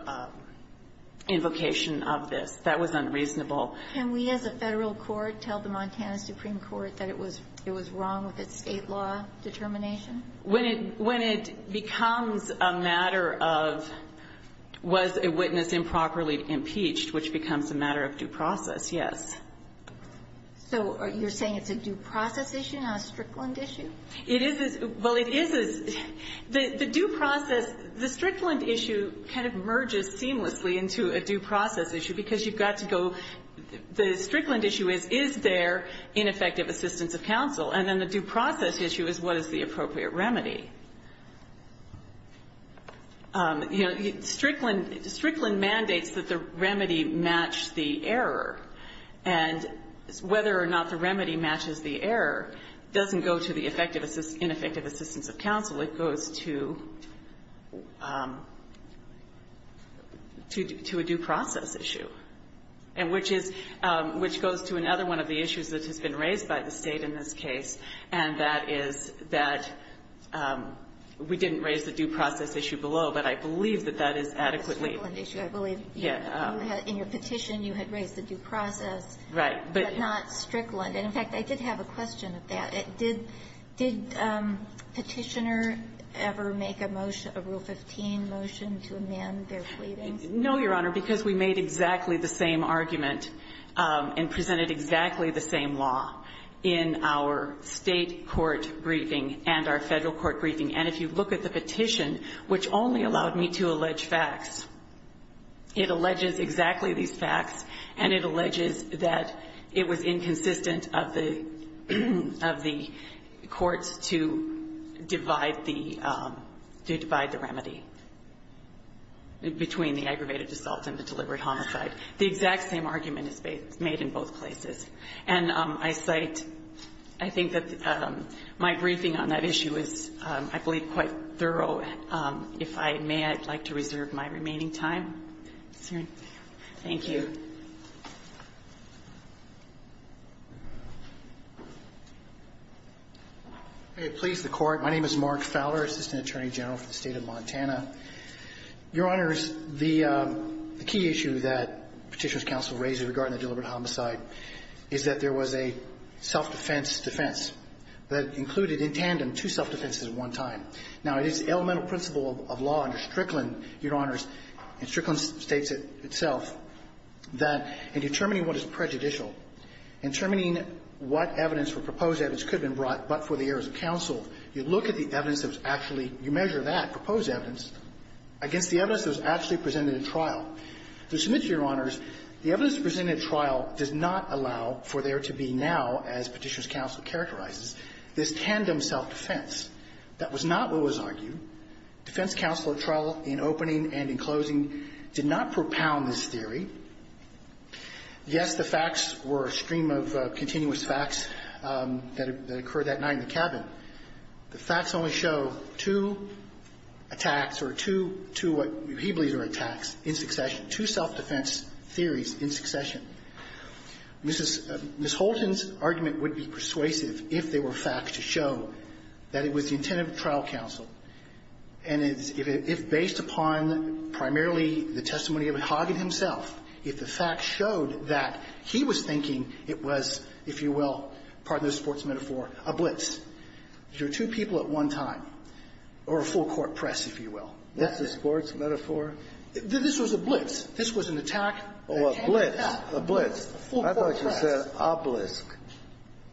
invocation of this. That was unreasonable. Can we, as a federal court, tell the Montana Supreme Court that it was wrong with its state law determination? When it becomes a matter of was a witness improperly impeached, which becomes a matter of due process, yes. So you're saying it's a due process issue, not a Strickland issue? The Strickland issue kind of merges seamlessly into a due process issue, because you've got to go the Strickland issue is, is there ineffective assistance of counsel? And then the due process issue is, what is the appropriate remedy? Strickland mandates that the remedy match the error. And whether or not the remedy matches the error doesn't go to the ineffective assistance of counsel, it goes to a due process issue, which goes to another one of the issues that has been raised by the state in this case, and that is that we didn't raise the due process issue I believe. In your petition, you had raised the due process, but not Strickland. And in fact, I did have a question at that. Did petitioner ever make a motion, a Rufus team motion to amend their pleading? No, Your Honor, because we made exactly the same argument and presented exactly the same law in our state court briefing and our federal court briefing. And if you look at the petition, which only allowed me to allege facts, it alleges exactly these facts and it alleges that it was inconsistent of the courts to divide the remedy between the aggravated assault and the deliberate homicide. The exact same argument is made in both places. And I cite, I think that my briefing on that issue is, I believe, quite thorough If I may, I'd like to reserve my remaining time. Thank you. Please, the court. My name is Mark Fowler. I'm Assistant Attorney General for the State of Montana. Your Honors, the key issue that Petitioner's Counsel raised regarding the deliberate homicide is that there was a self-defense defense that included in tandem two self-defenses at one time. Now, it is the elemental principle of law under Strickland, Your Honors, and Strickland states it itself, that in determining what is prejudicial, in determining what evidence or proposed evidence could have been brought but for the errors of counsel, you look at the evidence that's actually you measure that, proposed evidence, against the evidence that was actually presented in trial. To submit to Your Honors, the evidence presented in trial does not allow for there to be now, as Petitioner's Counsel characterizes, this tandem self-defense. That was not what was argued. Defense counsel at trial, in opening and in closing, did not propound this theory. Yes, the facts were a stream of continuous facts that occurred that night in the cabin. The facts only show two attacks or two, what he believes are attacks, in succession. Two self-defense theories in succession. Mrs. Holton's testimony would be persuasive if there were facts to show that it was the intent of trial counsel, and if based upon primarily the testimony of Hoggett himself, if the facts showed that he was thinking it was, if you will, pardon this sports metaphor, a blitz. There were two people at one time. Or a full court press, if you will. That's a sports metaphor? This was a blitz. This was an attack. Oh, a blitz. A blitz. I thought you said an obelisk.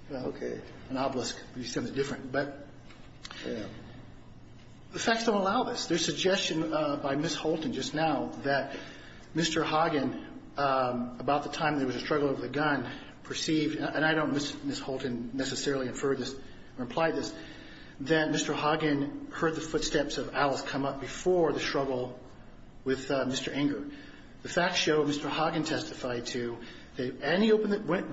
An obelisk. You said it different. The facts don't allow this. There's suggestion by Mrs. Holton, just now, that Mr. Hoggett, about the time there was a struggle over a gun, perceived, and I don't miss Mrs. Holton necessarily inferred this or implied this, that Mr. Hoggett heard the footsteps of Alice come up before the struggle with Mr. Ingram. The facts show Mr. Hoggett testified to that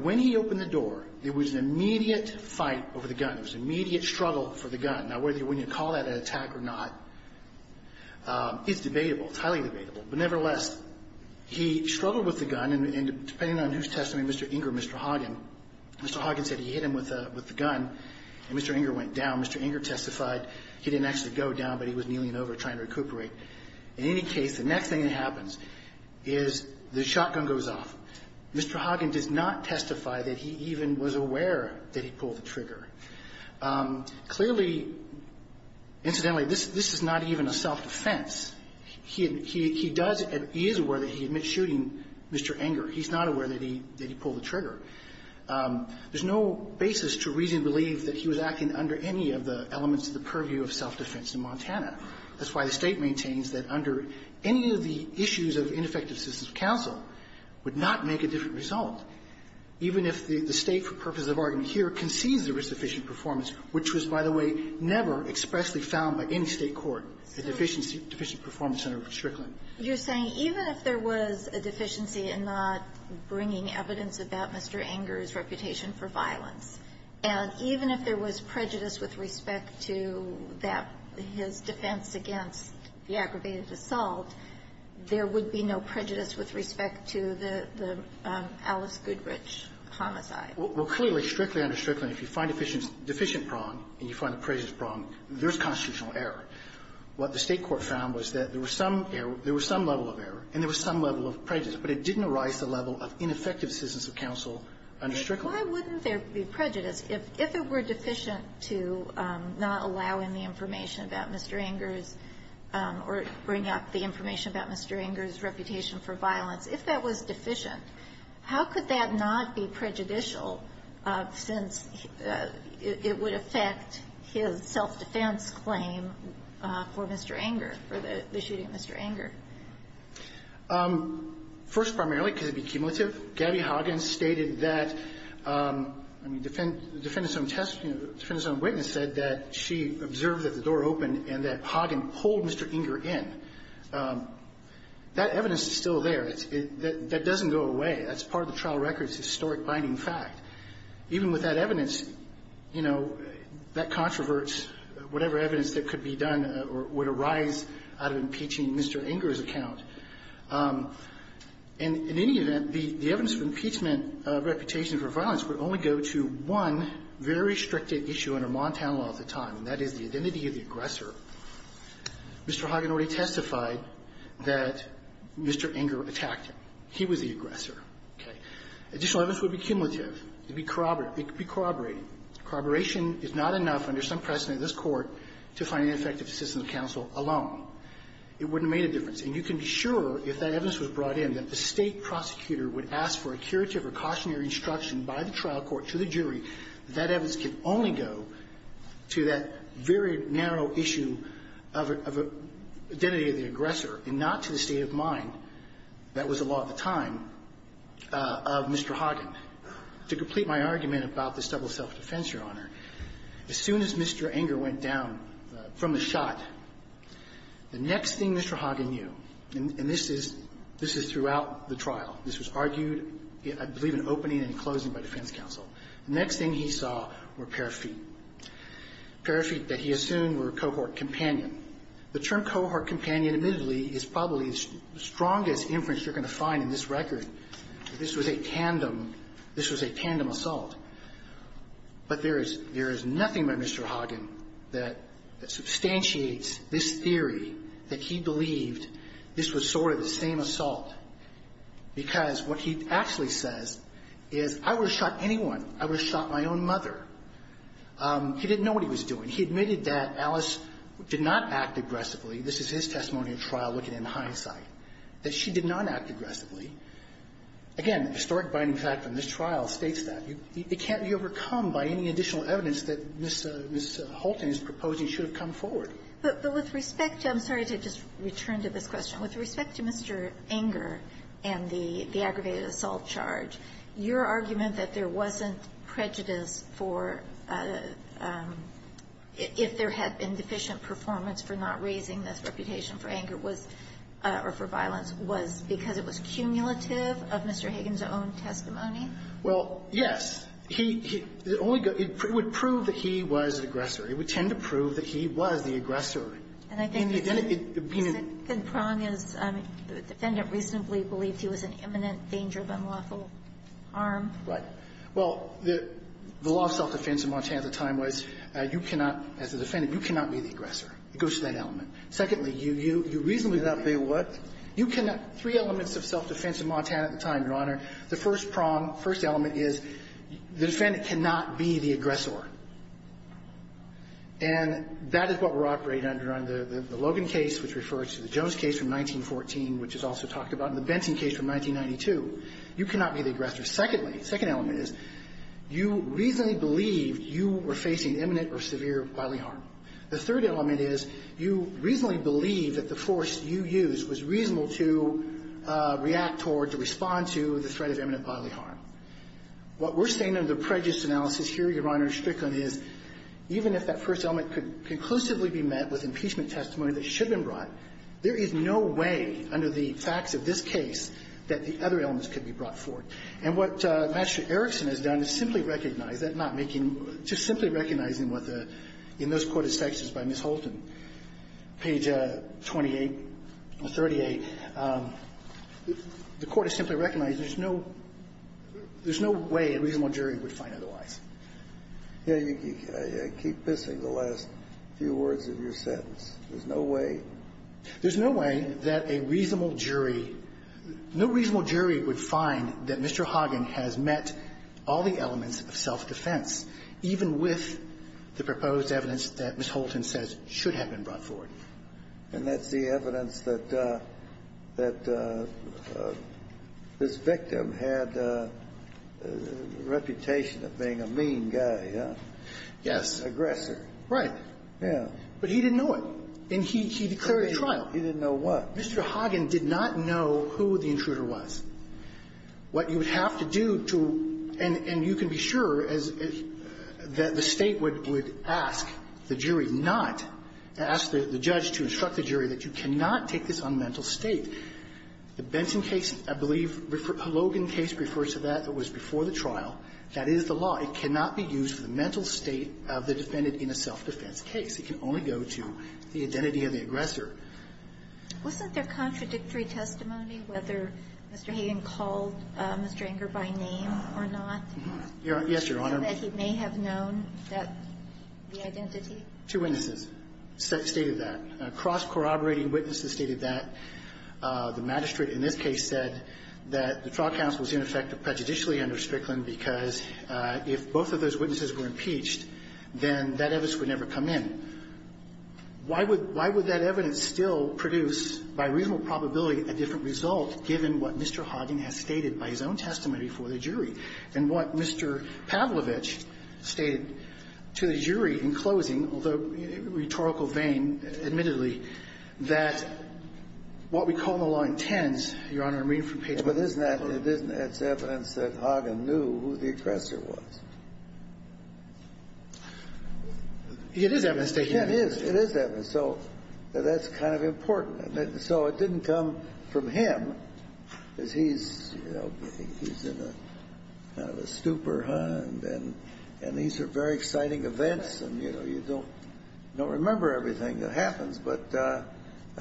when he opened the door there was an immediate fight over the gun. There was an immediate struggle for the gun. Now whether you call that an attack or not, it's debatable. It's highly debatable. But nevertheless, he struggled with the gun and depending on who's testimony, Mr. Ingram or Mr. Hoggett, Mr. Hoggett said he hit him with the gun and Mr. Ingram went down. Mr. Ingram testified he didn't actually go down, but he was kneeling over trying to recuperate. In any case, the next thing that happens is the shotgun goes off. Mr. Hoggett did not testify that he even was aware that he pulled the trigger. Clearly, incidentally, this is not even a self-defense. He does, he is aware that he admits shooting Mr. Ingram. He's not aware that he pulled the trigger. There's no basis to reason to believe that he was acting under any of the elements of the purview of self-defense in Montana. That's why the state maintains that under any of the issues of ineffective systems of counsel would not make a different result, even if the state for purposes of argument here concedes there was sufficient performance, which was, by the way, never expressly found by any state court a deficient performance under Strickland. You're saying even if there was a deficiency in not bringing evidence about Mr. Ingram's reputation for violence and even if there was prejudice with respect to that defense against the aggravated assault, there would be no prejudice with respect to the Alice Goodrich homicide. Well, clearly, strictly under Strickland, if you find a deficient problem and you find a prejudiced problem, there's constitutional error. What the state court found was that there was some level of error and there was some level of prejudice, but it didn't arise to the level of ineffective systems of counsel under Strickland. Why wouldn't there be prejudice if it were deficient to not allow any information about Mr. Ingram or bring up the information about Mr. Ingram's reputation for violence? If that was deficient, how could that not be prejudicial since it would affect his self-defense claim for Mr. Ingram, for the shooting of Mr. Ingram? First, primarily because of the cumulative. Gabby Hagen stated that defendants on witness said that she observed that the door opened and that Hagen pulled Mr. Ingram in. That evidence is still there. That doesn't go away. That's part of the trial record. It's a historic binding fact. Even with that evidence, that controversy, whatever evidence that could be done would arise out of impeaching Mr. Ingram's account. In any event, the evidence of reputation for violence would only go to one very strict issue under Montana law at the time, and that is the identity of the aggressor. Mr. Hagen already testified that Mr. Ingram attacked him. He was the aggressor. Additional evidence would be cumulative. It could be corroborated. Corroboration is not enough under some precedent in this court to find an ineffective system of counsel alone. It wouldn't make a difference. And you can be sure, if that evidence was brought in, that the state of mind of Mr. Hagen, as soon as Mr. Ingram went down from the shot, the next thing Mr. Hagen knew, and this is throughout the trial, this was argued, I believe, in open court, the next thing Mr. Hagen knew, the next thing he saw were a pair of feet. A pair of feet that he assumed were a cohort companion. The term cohort companion is probably the strongest inference you're going to find in this record. This was a tandem assault. But there is nothing by Mr. Hagen that substantiates this theory that he believed this was sort of the same assault. Because what he actually says is, I would have shot anyone. I would have shot my own mother. He didn't know what he was doing. He admitted that Alice did not act aggressively. This is his testimony in trial, looking in hindsight. That she did not act aggressively. Again, historic binding fact from this trial states that. It can't be overcome by any additional evidence that Ms. Hulting is proposing should have come forward. But with respect to, I'm sorry to just return to this question, with respect to Mr. Enger and the aggravated assault charge, your argument that there wasn't prejudice for if there had been deficient performance for not raising this reputation for anger or for violence was because it was cumulative of Mr. Hagen's own testimony? Well, yes. It would prove that he was aggressive. It would tend to prove that he was the aggressor. And I think the prong is the defendant reasonably believes he was in imminent danger of unlawful harm. The law of self-defense in Montana at the time was, as a defendant, you cannot be the aggressor. It goes to that element. Three elements of self-defense in Montana at the time, Your Honor. The first prong, the first element is the defendant cannot be the aggressor. And that is what we're operating under on the Logan case, which refers to the Jones case from 1914, which is also talked about, and the Benton case from 1992. You cannot be the aggressor. Secondly, the second element is you reasonably believe you were facing imminent or severe bodily harm. The third element is you reasonably believe that the force you used was reasonable to react toward, to respond to the threat of imminent bodily harm. What we're saying in the prejudice analysis here, Your Honor, is even if that first element could conclusively be met with impeachment testimony that should have been brought, there is no way, under the facts of this case, that the other elements could be brought forth. And what Master Erickson has done is simply recognize that not making, just simply recognizing what the, in this court of statutes by Ms. Holton, page 28 or 38, the court has simply recognized there's no way a reasonable jury would find otherwise. I keep missing the last few words of your sentence. There's no way There's no way that a reasonable jury, no reasonable jury would find that Mr. Hagen has met all the elements of self-defense, even with the proposed evidence that Ms. Holton says should have been brought forth. And that's the evidence that this victim had a reputation of being a mean guy. Yes. Aggressive. Right. Yeah. But he didn't know it. He didn't know what. Mr. Hagen did not know who the intruder was. What you would have to do to, and you can be sure that the state would ask the jury not, ask the judge to instruct the jury that you cannot take this on mental state. The Benson case refers to that. It was before the trial. That is the law. It cannot be used for the mental state of the defendant in a self-defense case. It can only go to the identity of the aggressor. Wasn't there contradictory testimony, whether Mr. Hagen called Mr. Enger by name or not? Yes, Your Honor. That he may have known the identity? Two witnesses stated that. A cross-corroborating witness has stated that. The magistrate in this case said that the trial counsel was in effect prejudicially under Strickland because if both of those witnesses were impeached, then that evidence would never come in. Why would that evidence still produce, by reasonable probability, a different result given what Mr. Hagen has stated by his own testimony before the jury? And what Mr. Pavlovich stated to the jury in closing, although rhetorical vain admittedly, that what we call the line tens, Your Honor, means for people... But isn't that evidence that Hagen knew who the aggressor was? It is evidence. It is. It is evidence. So that's kind of important. So it didn't come from him, because he's kind of a stupor, huh? And these are very exciting events, and you know, you don't remember everything that happens, but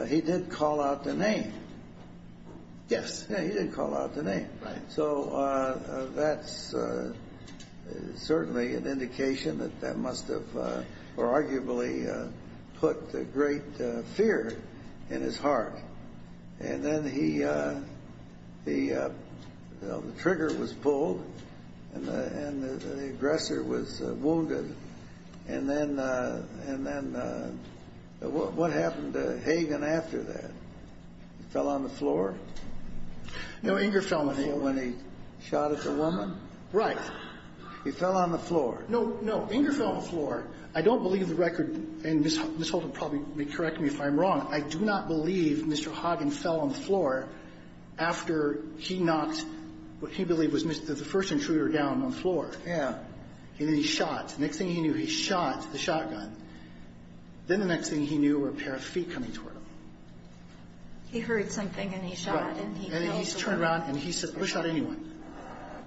he did call out the name. Yes. Yeah, he did call out the name. So that's certainly an indication that that must have arguably put great fear in his heart. And then he... The trigger was pulled, and the aggressor was wounded. And then what happened to Hagen after that? Fell on the floor? No, Inger fell on the floor. When he shot at the woman? Right. He fell on the floor. No, no, Inger fell on the floor. I don't believe the record, and Ms. Holt will probably correct me if I'm wrong, I do not believe Mr. Hagen fell on the floor after he knocked what he believed was the first intruder down on the floor. Yeah. And then he shot. The next thing he knew, he Then the next thing he knew were a pair of feet coming toward him. He heard something, and he shot. And he turned around, and he said, I wish I had anyone.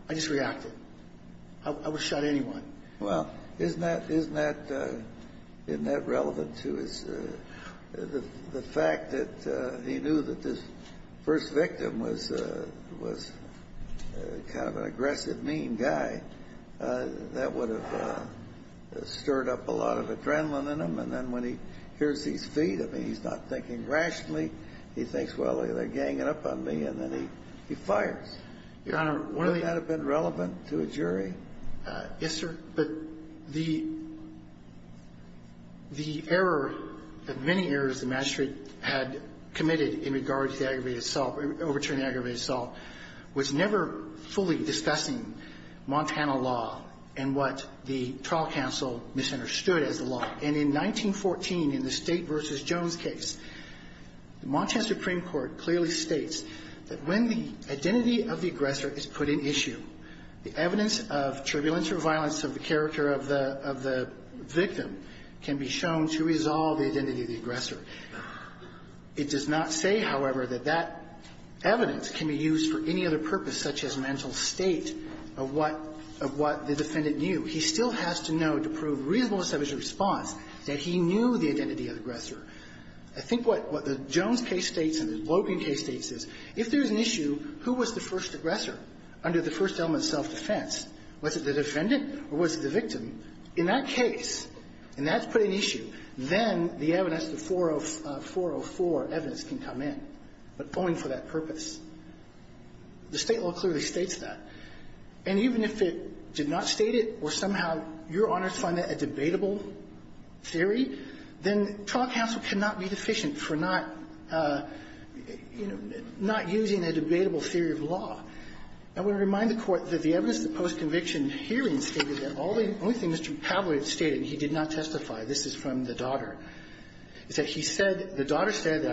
I just reacted. I wish I had anyone. Well, isn't that relevant to the fact that he knew that this first victim was kind of an aggressive mean guy? That would have stirred up a lot of adrenaline in him, and then when he hears these feet, I mean, he's not thinking rationally. He thinks, well, they're ganging up on me, and then he fires. Would that have been relevant to a jury? Yes, sir. The error, the many errors the magistrate had committed in regards to the aggravated assault, overturning the aggravated assault, was never fully discussing Montana law and what the trial counsel misunderstood as the law. And in 1914, in the State v. Jones case, the Montana Supreme Court clearly states that when the identity of the aggressor is put in issue, the evidence of turbulence or violence of the character of the victim can be shown to resolve the identity of the aggressor. It does not say, however, that that evidence can be used for any other purpose, such as mental state of what the defendant knew. He still has to know to prove reasonable establishment of response that he knew the identity of the aggressor. I think what the Jones case states and the Loebian case states is, if there's an issue, who was the first aggressor under the first element of self-defense? Was it the defendant or was it the victim? In that case, and that's put in issue, then the evidence, the 404 evidence can come in, but only for that purpose. The state law clearly states that. And even if it did not state it, or somehow your honors find that a debatable theory, then trial counsel cannot be deficient for not using a debatable theory of law. I want to remind the Court that the evidence of the post-conviction hearing stated that the only thing Mr. Pavlovich stated, he did not testify, this is from the daughter, is that he said, the daughter said,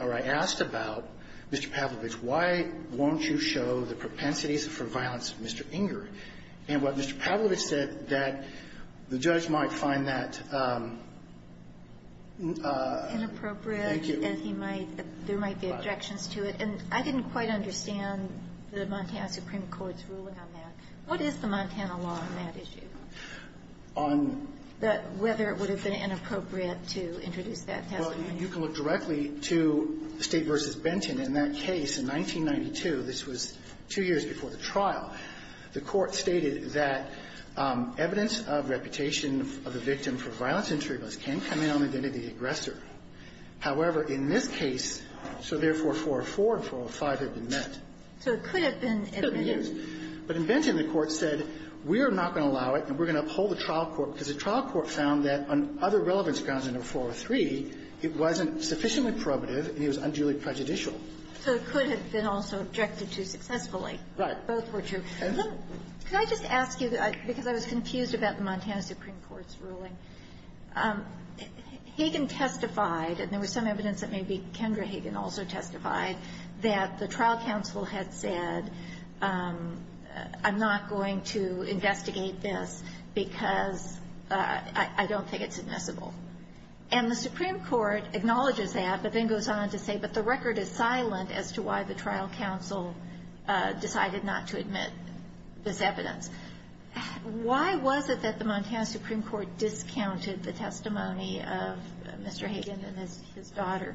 or I asked about, Mr. Pavlovich, why won't you show the propensities for violence to Mr. Inger? And what Mr. Pavlovich said, that the judge might find that inappropriate, as he might, but there might be objections to it. And I didn't quite understand the Montana Supreme Court's ruling on that. What is the Montana law on that issue? Whether it would have been inappropriate to introduce that? Well, you can look directly to State v. Benton. In that case, in 1992, this was two years before the trial, the Court stated that evidence of reputation of a victim for violence and treatment can come in on the identity of the aggressor. However, in this case, so therefore, 404 and 405 have been met. So it could have been. It could have been. But in Benton, the Court said, we're not going to allow it, and we're going to uphold the trial court, because the trial court found that on other relevance grounds than 403, it wasn't sufficiently prerogative, and it was unduly prejudicial. So it could have been also objected to successfully. Right. Both were true. Can I just ask you, because I was confused about the Montana Supreme Court's ruling, Hagen testified, and there was some evidence that maybe Kendra Hagen also testified, that the trial counsel had said, I'm not going to investigate this because I don't think it's admissible. And the Supreme Court acknowledges that, but then goes on to say, but the record is silent as to why the trial counsel decided not to admit this evidence. Why was it that the Montana Supreme Court discounted the testimony of Mr. Hagen and his daughter?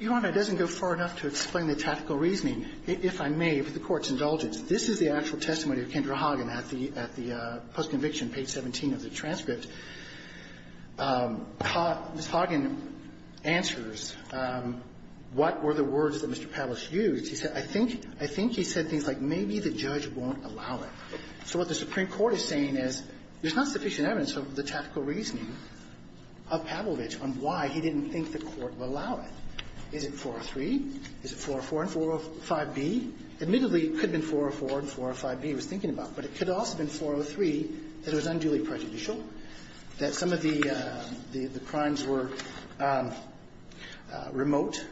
Your Honor, it doesn't go far enough to explain the tactical reasoning. If I may, if the Court's indulgent, this is the actual testimony of Kendra Hagen at the post-conviction, page 17 of the transcript. Ms. Hagen answers what were the words that Mr. Pavlovich used. He said, I think he said things like, maybe the judge won't allow it. So what the Supreme Court is saying is, there's not sufficient evidence of the tactical reasoning of Pavlovich on why he didn't think the Court would allow it. Is it 403? Is it 404 and 405B? Admittedly, it could have been 404 and 405B he was thinking about, but it could have also been 403 and 405B, and it was unduly prejudicial, that some of the crimes were remote.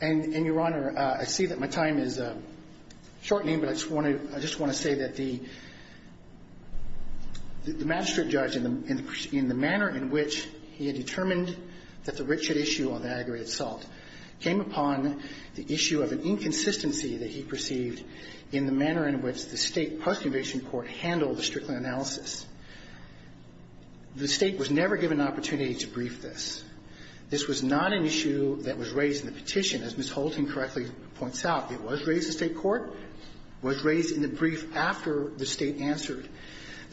And, Your Honor, I see that my time is shortening, but I just want to say that the magistrate judge, in the manner in which he determined that the Richard issue on the aggregate assault came upon the issue of an inconsistency that he perceived in the manner in which the State conducted the analysis, the State was never given an opportunity to brief this. This was not an issue that was raised in the petition, as Ms. Holton correctly points out. It was raised in the State Court. It was raised in the brief after the State answered.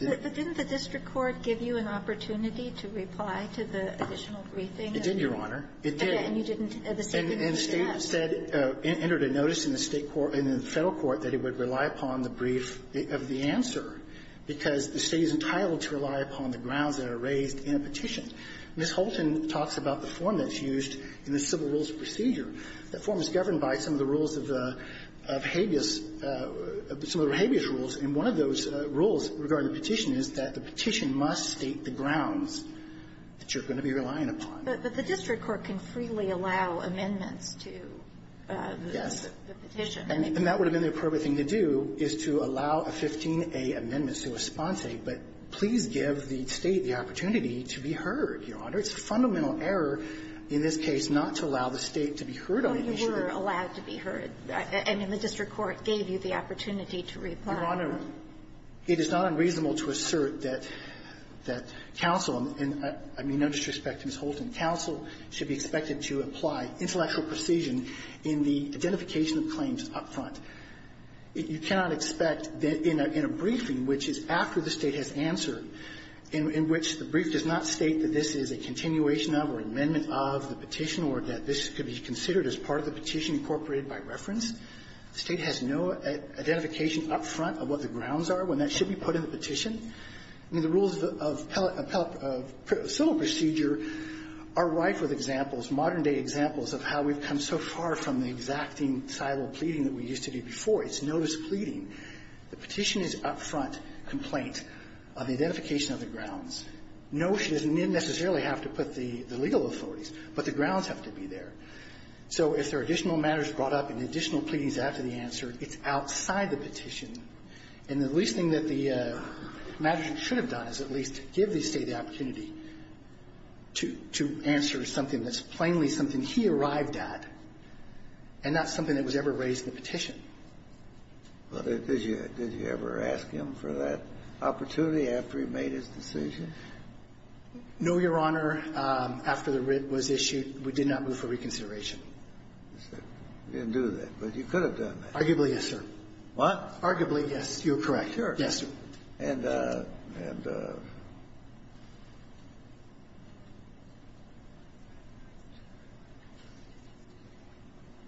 But didn't the District Court give you an opportunity to reply to the additional briefing? It did, Your Honor. It did. And the State entered a notice in the Federal Court that it would rely upon the brief of the answer, because the State is entitled to rely upon the grounds that are raised in a petition. Ms. Holton talks about the form that's used in the civil rules procedure. That form is governed by some of the rules of habeas, some of the habeas rules, and one of those rules regarding the petition is that the petition must state the grounds that you're going to be relying upon. But the District Court can freely allow amendments to the petition. And that would have been the appropriate thing to do, is to allow a 15A amendment to a sponse, but please give the State the opportunity to be heard, Your Honor. It's a fundamental error in this case not to allow the State to be heard on this issue. They were allowed to be heard, and the District Court gave you the opportunity to reply. Your Honor, it is not unreasonable to assert that counsel, and I mean no disrespect to Ms. Holton, counsel should be expected to apply intellectual precision in the identification of claims up front. You cannot expect in a briefing, which is after the State has answered, in which the brief does not state that this is a continuation of or amendment of the petition, or that this could be considered as part of the petition incorporated by reference, the State has no identification up front of what the grounds are when that should be put in the petition. The rules of civil procedure are rife with examples, of how we've come so far from the exacting title of pleading that we used to do before. It's notice pleading. The petition is up front complaint on the identification of the grounds. Notice doesn't necessarily have to put the legal authorities, but the grounds have to be there. So if there are additional matters brought up and additional pleadings after the answer, it's outside the petition. And the least thing that the Magistrate should have done is at least give the State the opportunity to answer something that's finally something he arrived at, and not something that was ever raised in the petition. Did you ever ask him for that opportunity after he made his decision? No, Your Honor. After the writ was issued, we did not move for reconsideration. You didn't do that, but you could have done that. Arguably, yes, sir. What? Arguably, yes. You're correct. And.........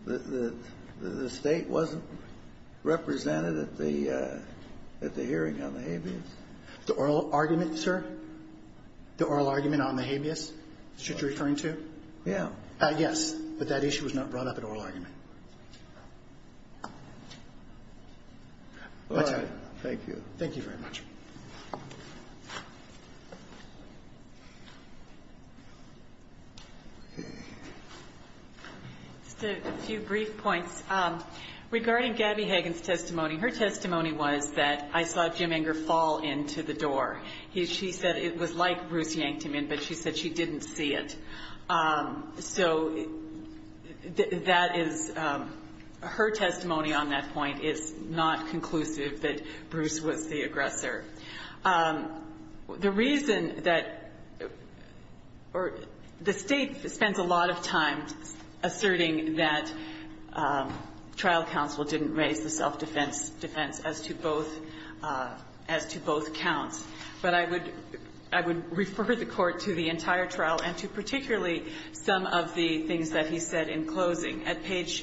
The State wasn't represented at the hearing on the habeas? The oral argument, sir? The oral argument on the habeas? Is that what you're referring to? Yeah. I guess, but that issue was not brought up in oral argument. Okay. Thank you. Thank you very much.... A few brief points. Regarding Gabby Hagen's testimony, her testimony was that I saw Jim Enger fall into the door. She said it was like Bruce yanked him in, but she said she didn't see it. So, that is... Her testimony on that point is not conclusive, but Bruce was the aggressor. The reason that... The State spent a lot of time asserting that trial counsel didn't raise the self-defense as to both counts, but I would refer the Court to the entire trial and to particularly some of the things that he said in closing.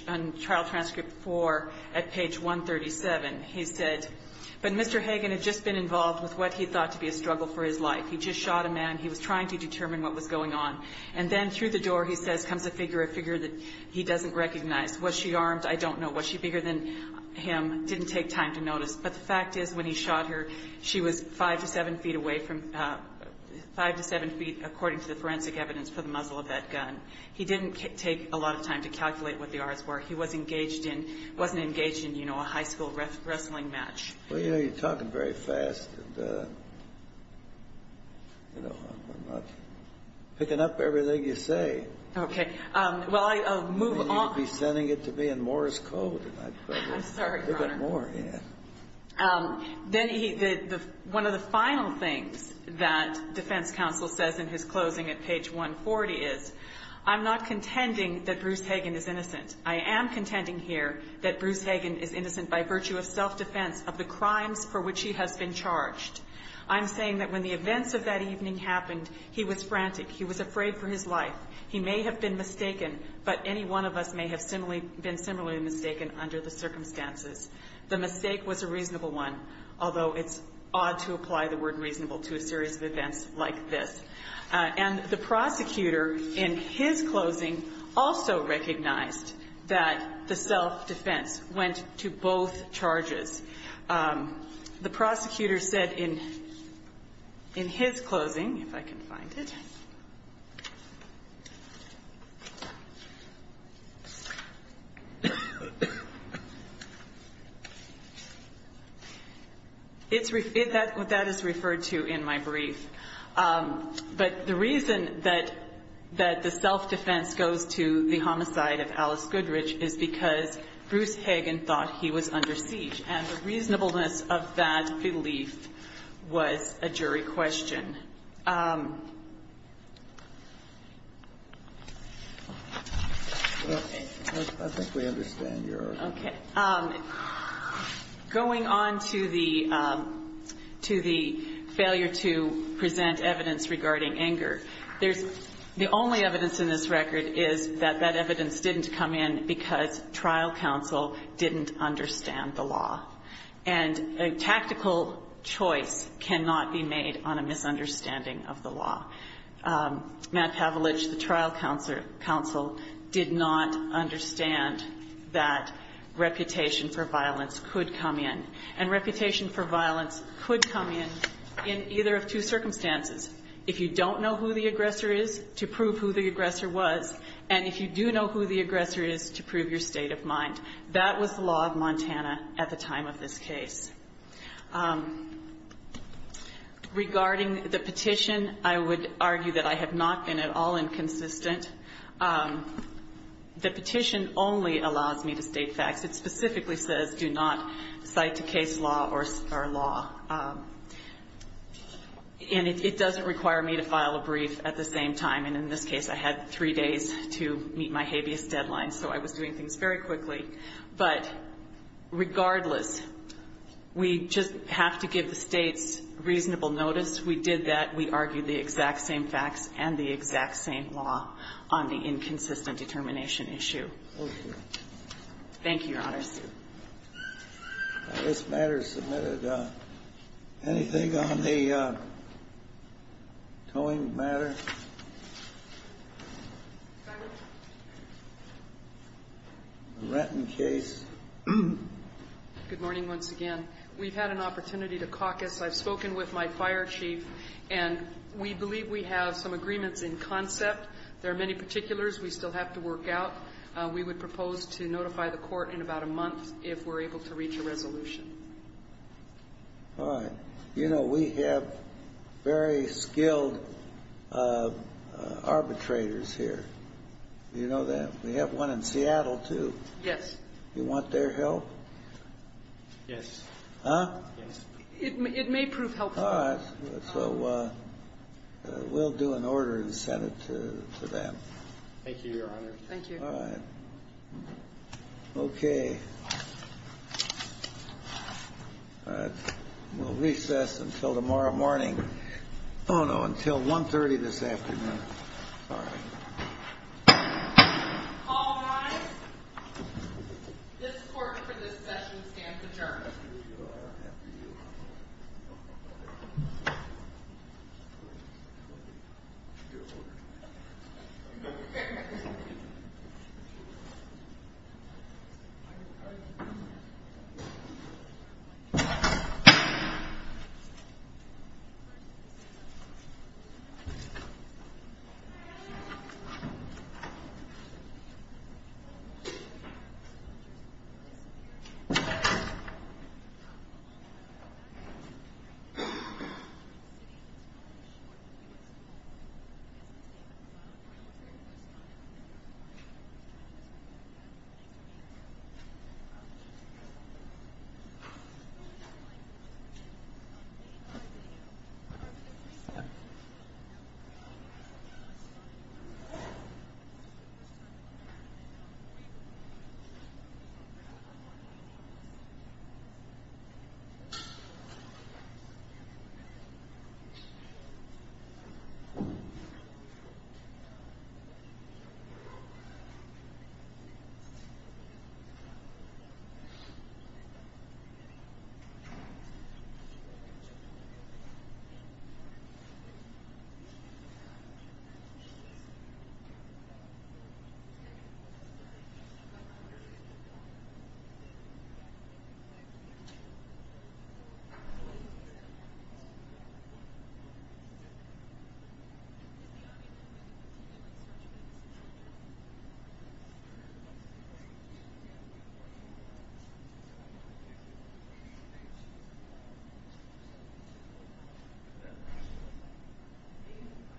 On Trial Transcript 4, at the beginning of the hearing, he said, but Mr. Hagen had just been involved with what he thought to be a struggle for his life. He just shot a man. He was trying to determine what was going on, and then through the door, he said, comes a figure, a figure that he doesn't recognize. Was she armed? I don't know. Was she bigger than him? Didn't take time to notice, but the fact is, when he shot her, she was 5 to 7 feet away from... 5 to 7 feet, according to the forensic evidence, from the muzzle of that gun. He didn't take a lot of time to calculate what the odds were. He wasn't engaged in, you know, a high school wrestling match. Well, you know, you're talking very fast. Picking up everything you say. Okay. Well, I'll move on. He's tending it to be in Morris code. I'm sorry, Your Honor. One of the final things that defense counsel says in his closing at page 140 is, I'm not contending that Bruce Hagan is innocent. I am contending here that Bruce Hagan is innocent by virtue of self-defense of the crime for which he has been charged. I'm saying that when the events of that evening happened, he was frantic. He was afraid for his life. He may have been mistaken, but any one of us may have been similarly mistaken under the circumstances. The mistake was a reasonable one, although it's odd to apply the word reasonable to a serious event like this. And the prosecutor in his closing also recognized that the self-defense went to both charges. The prosecutor said in his closing, if I can find it. That is referred to in my brief. But the reason that the self-defense goes to the homicide of Alice Goodrich is because Bruce Hagan thought he was under siege. And the reasonableness of that belief was a jury question. Okay. I think we understand, Your Honor. Going on to the failure to present evidence regarding anger. The only evidence in this record is that that evidence didn't come in because trial counsel didn't understand the law. And a tactical choice cannot be made on a misunderstanding of the law. Matt Tavlitch, the trial counsel, did not understand that reputation for violence could come in. And reputation for violence could come in, in either of two circumstances. If you don't know who the aggressor is, to prove who the aggressor was. And if you do know who the aggressor is, to prove your state of mind. That was the law of Montana at the time of this case. Regarding the petition, I would argue that I have not been at all inconsistent. The petition only allows me to state facts. It specifically says do not cite the case law or star law. And it doesn't require me to file a brief at the same time. And in this case, I had three days to meet my habeas deadline. So I was doing things very quickly. But regardless, we just have to give the state reasonable notice. We did that. We argued the exact same facts and the exact same law on the inconsistent determination issue. Thank you. Anything on the towing matter? Good morning once again. We've had an opportunity to caucus. I've spoken with my fire chief. And we believe we have some agreements in concept. There are many particulars we still have to work out. We would propose to notify the court in about a month if we're able to reach a resolution. We have very skilled arbitrators here. Do you know that? We have one in Seattle too. Do you want their help? Yes. It may prove helpful. So we'll do an order in the Senate for that. Okay. We'll recess until tomorrow morning. No, no. Until 1.30 this afternoon. All rise. This court is adjourned. This court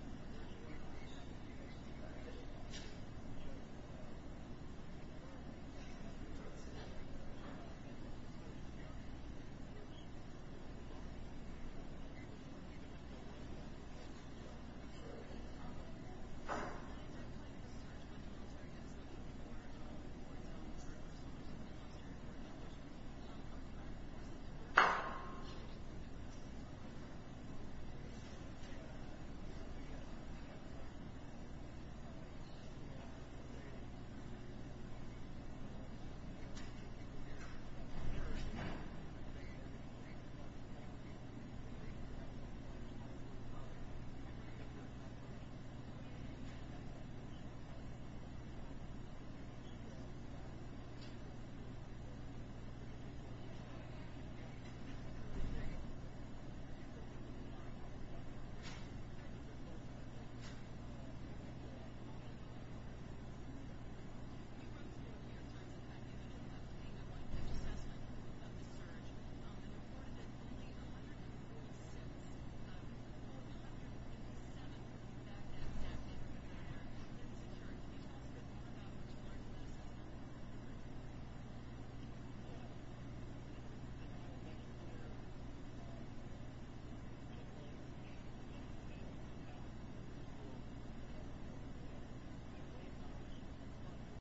is adjourned. This court is adjourned. This court is adjourned. This court is adjourned. This court is adjourned. This court is adjourned. This court is adjourned.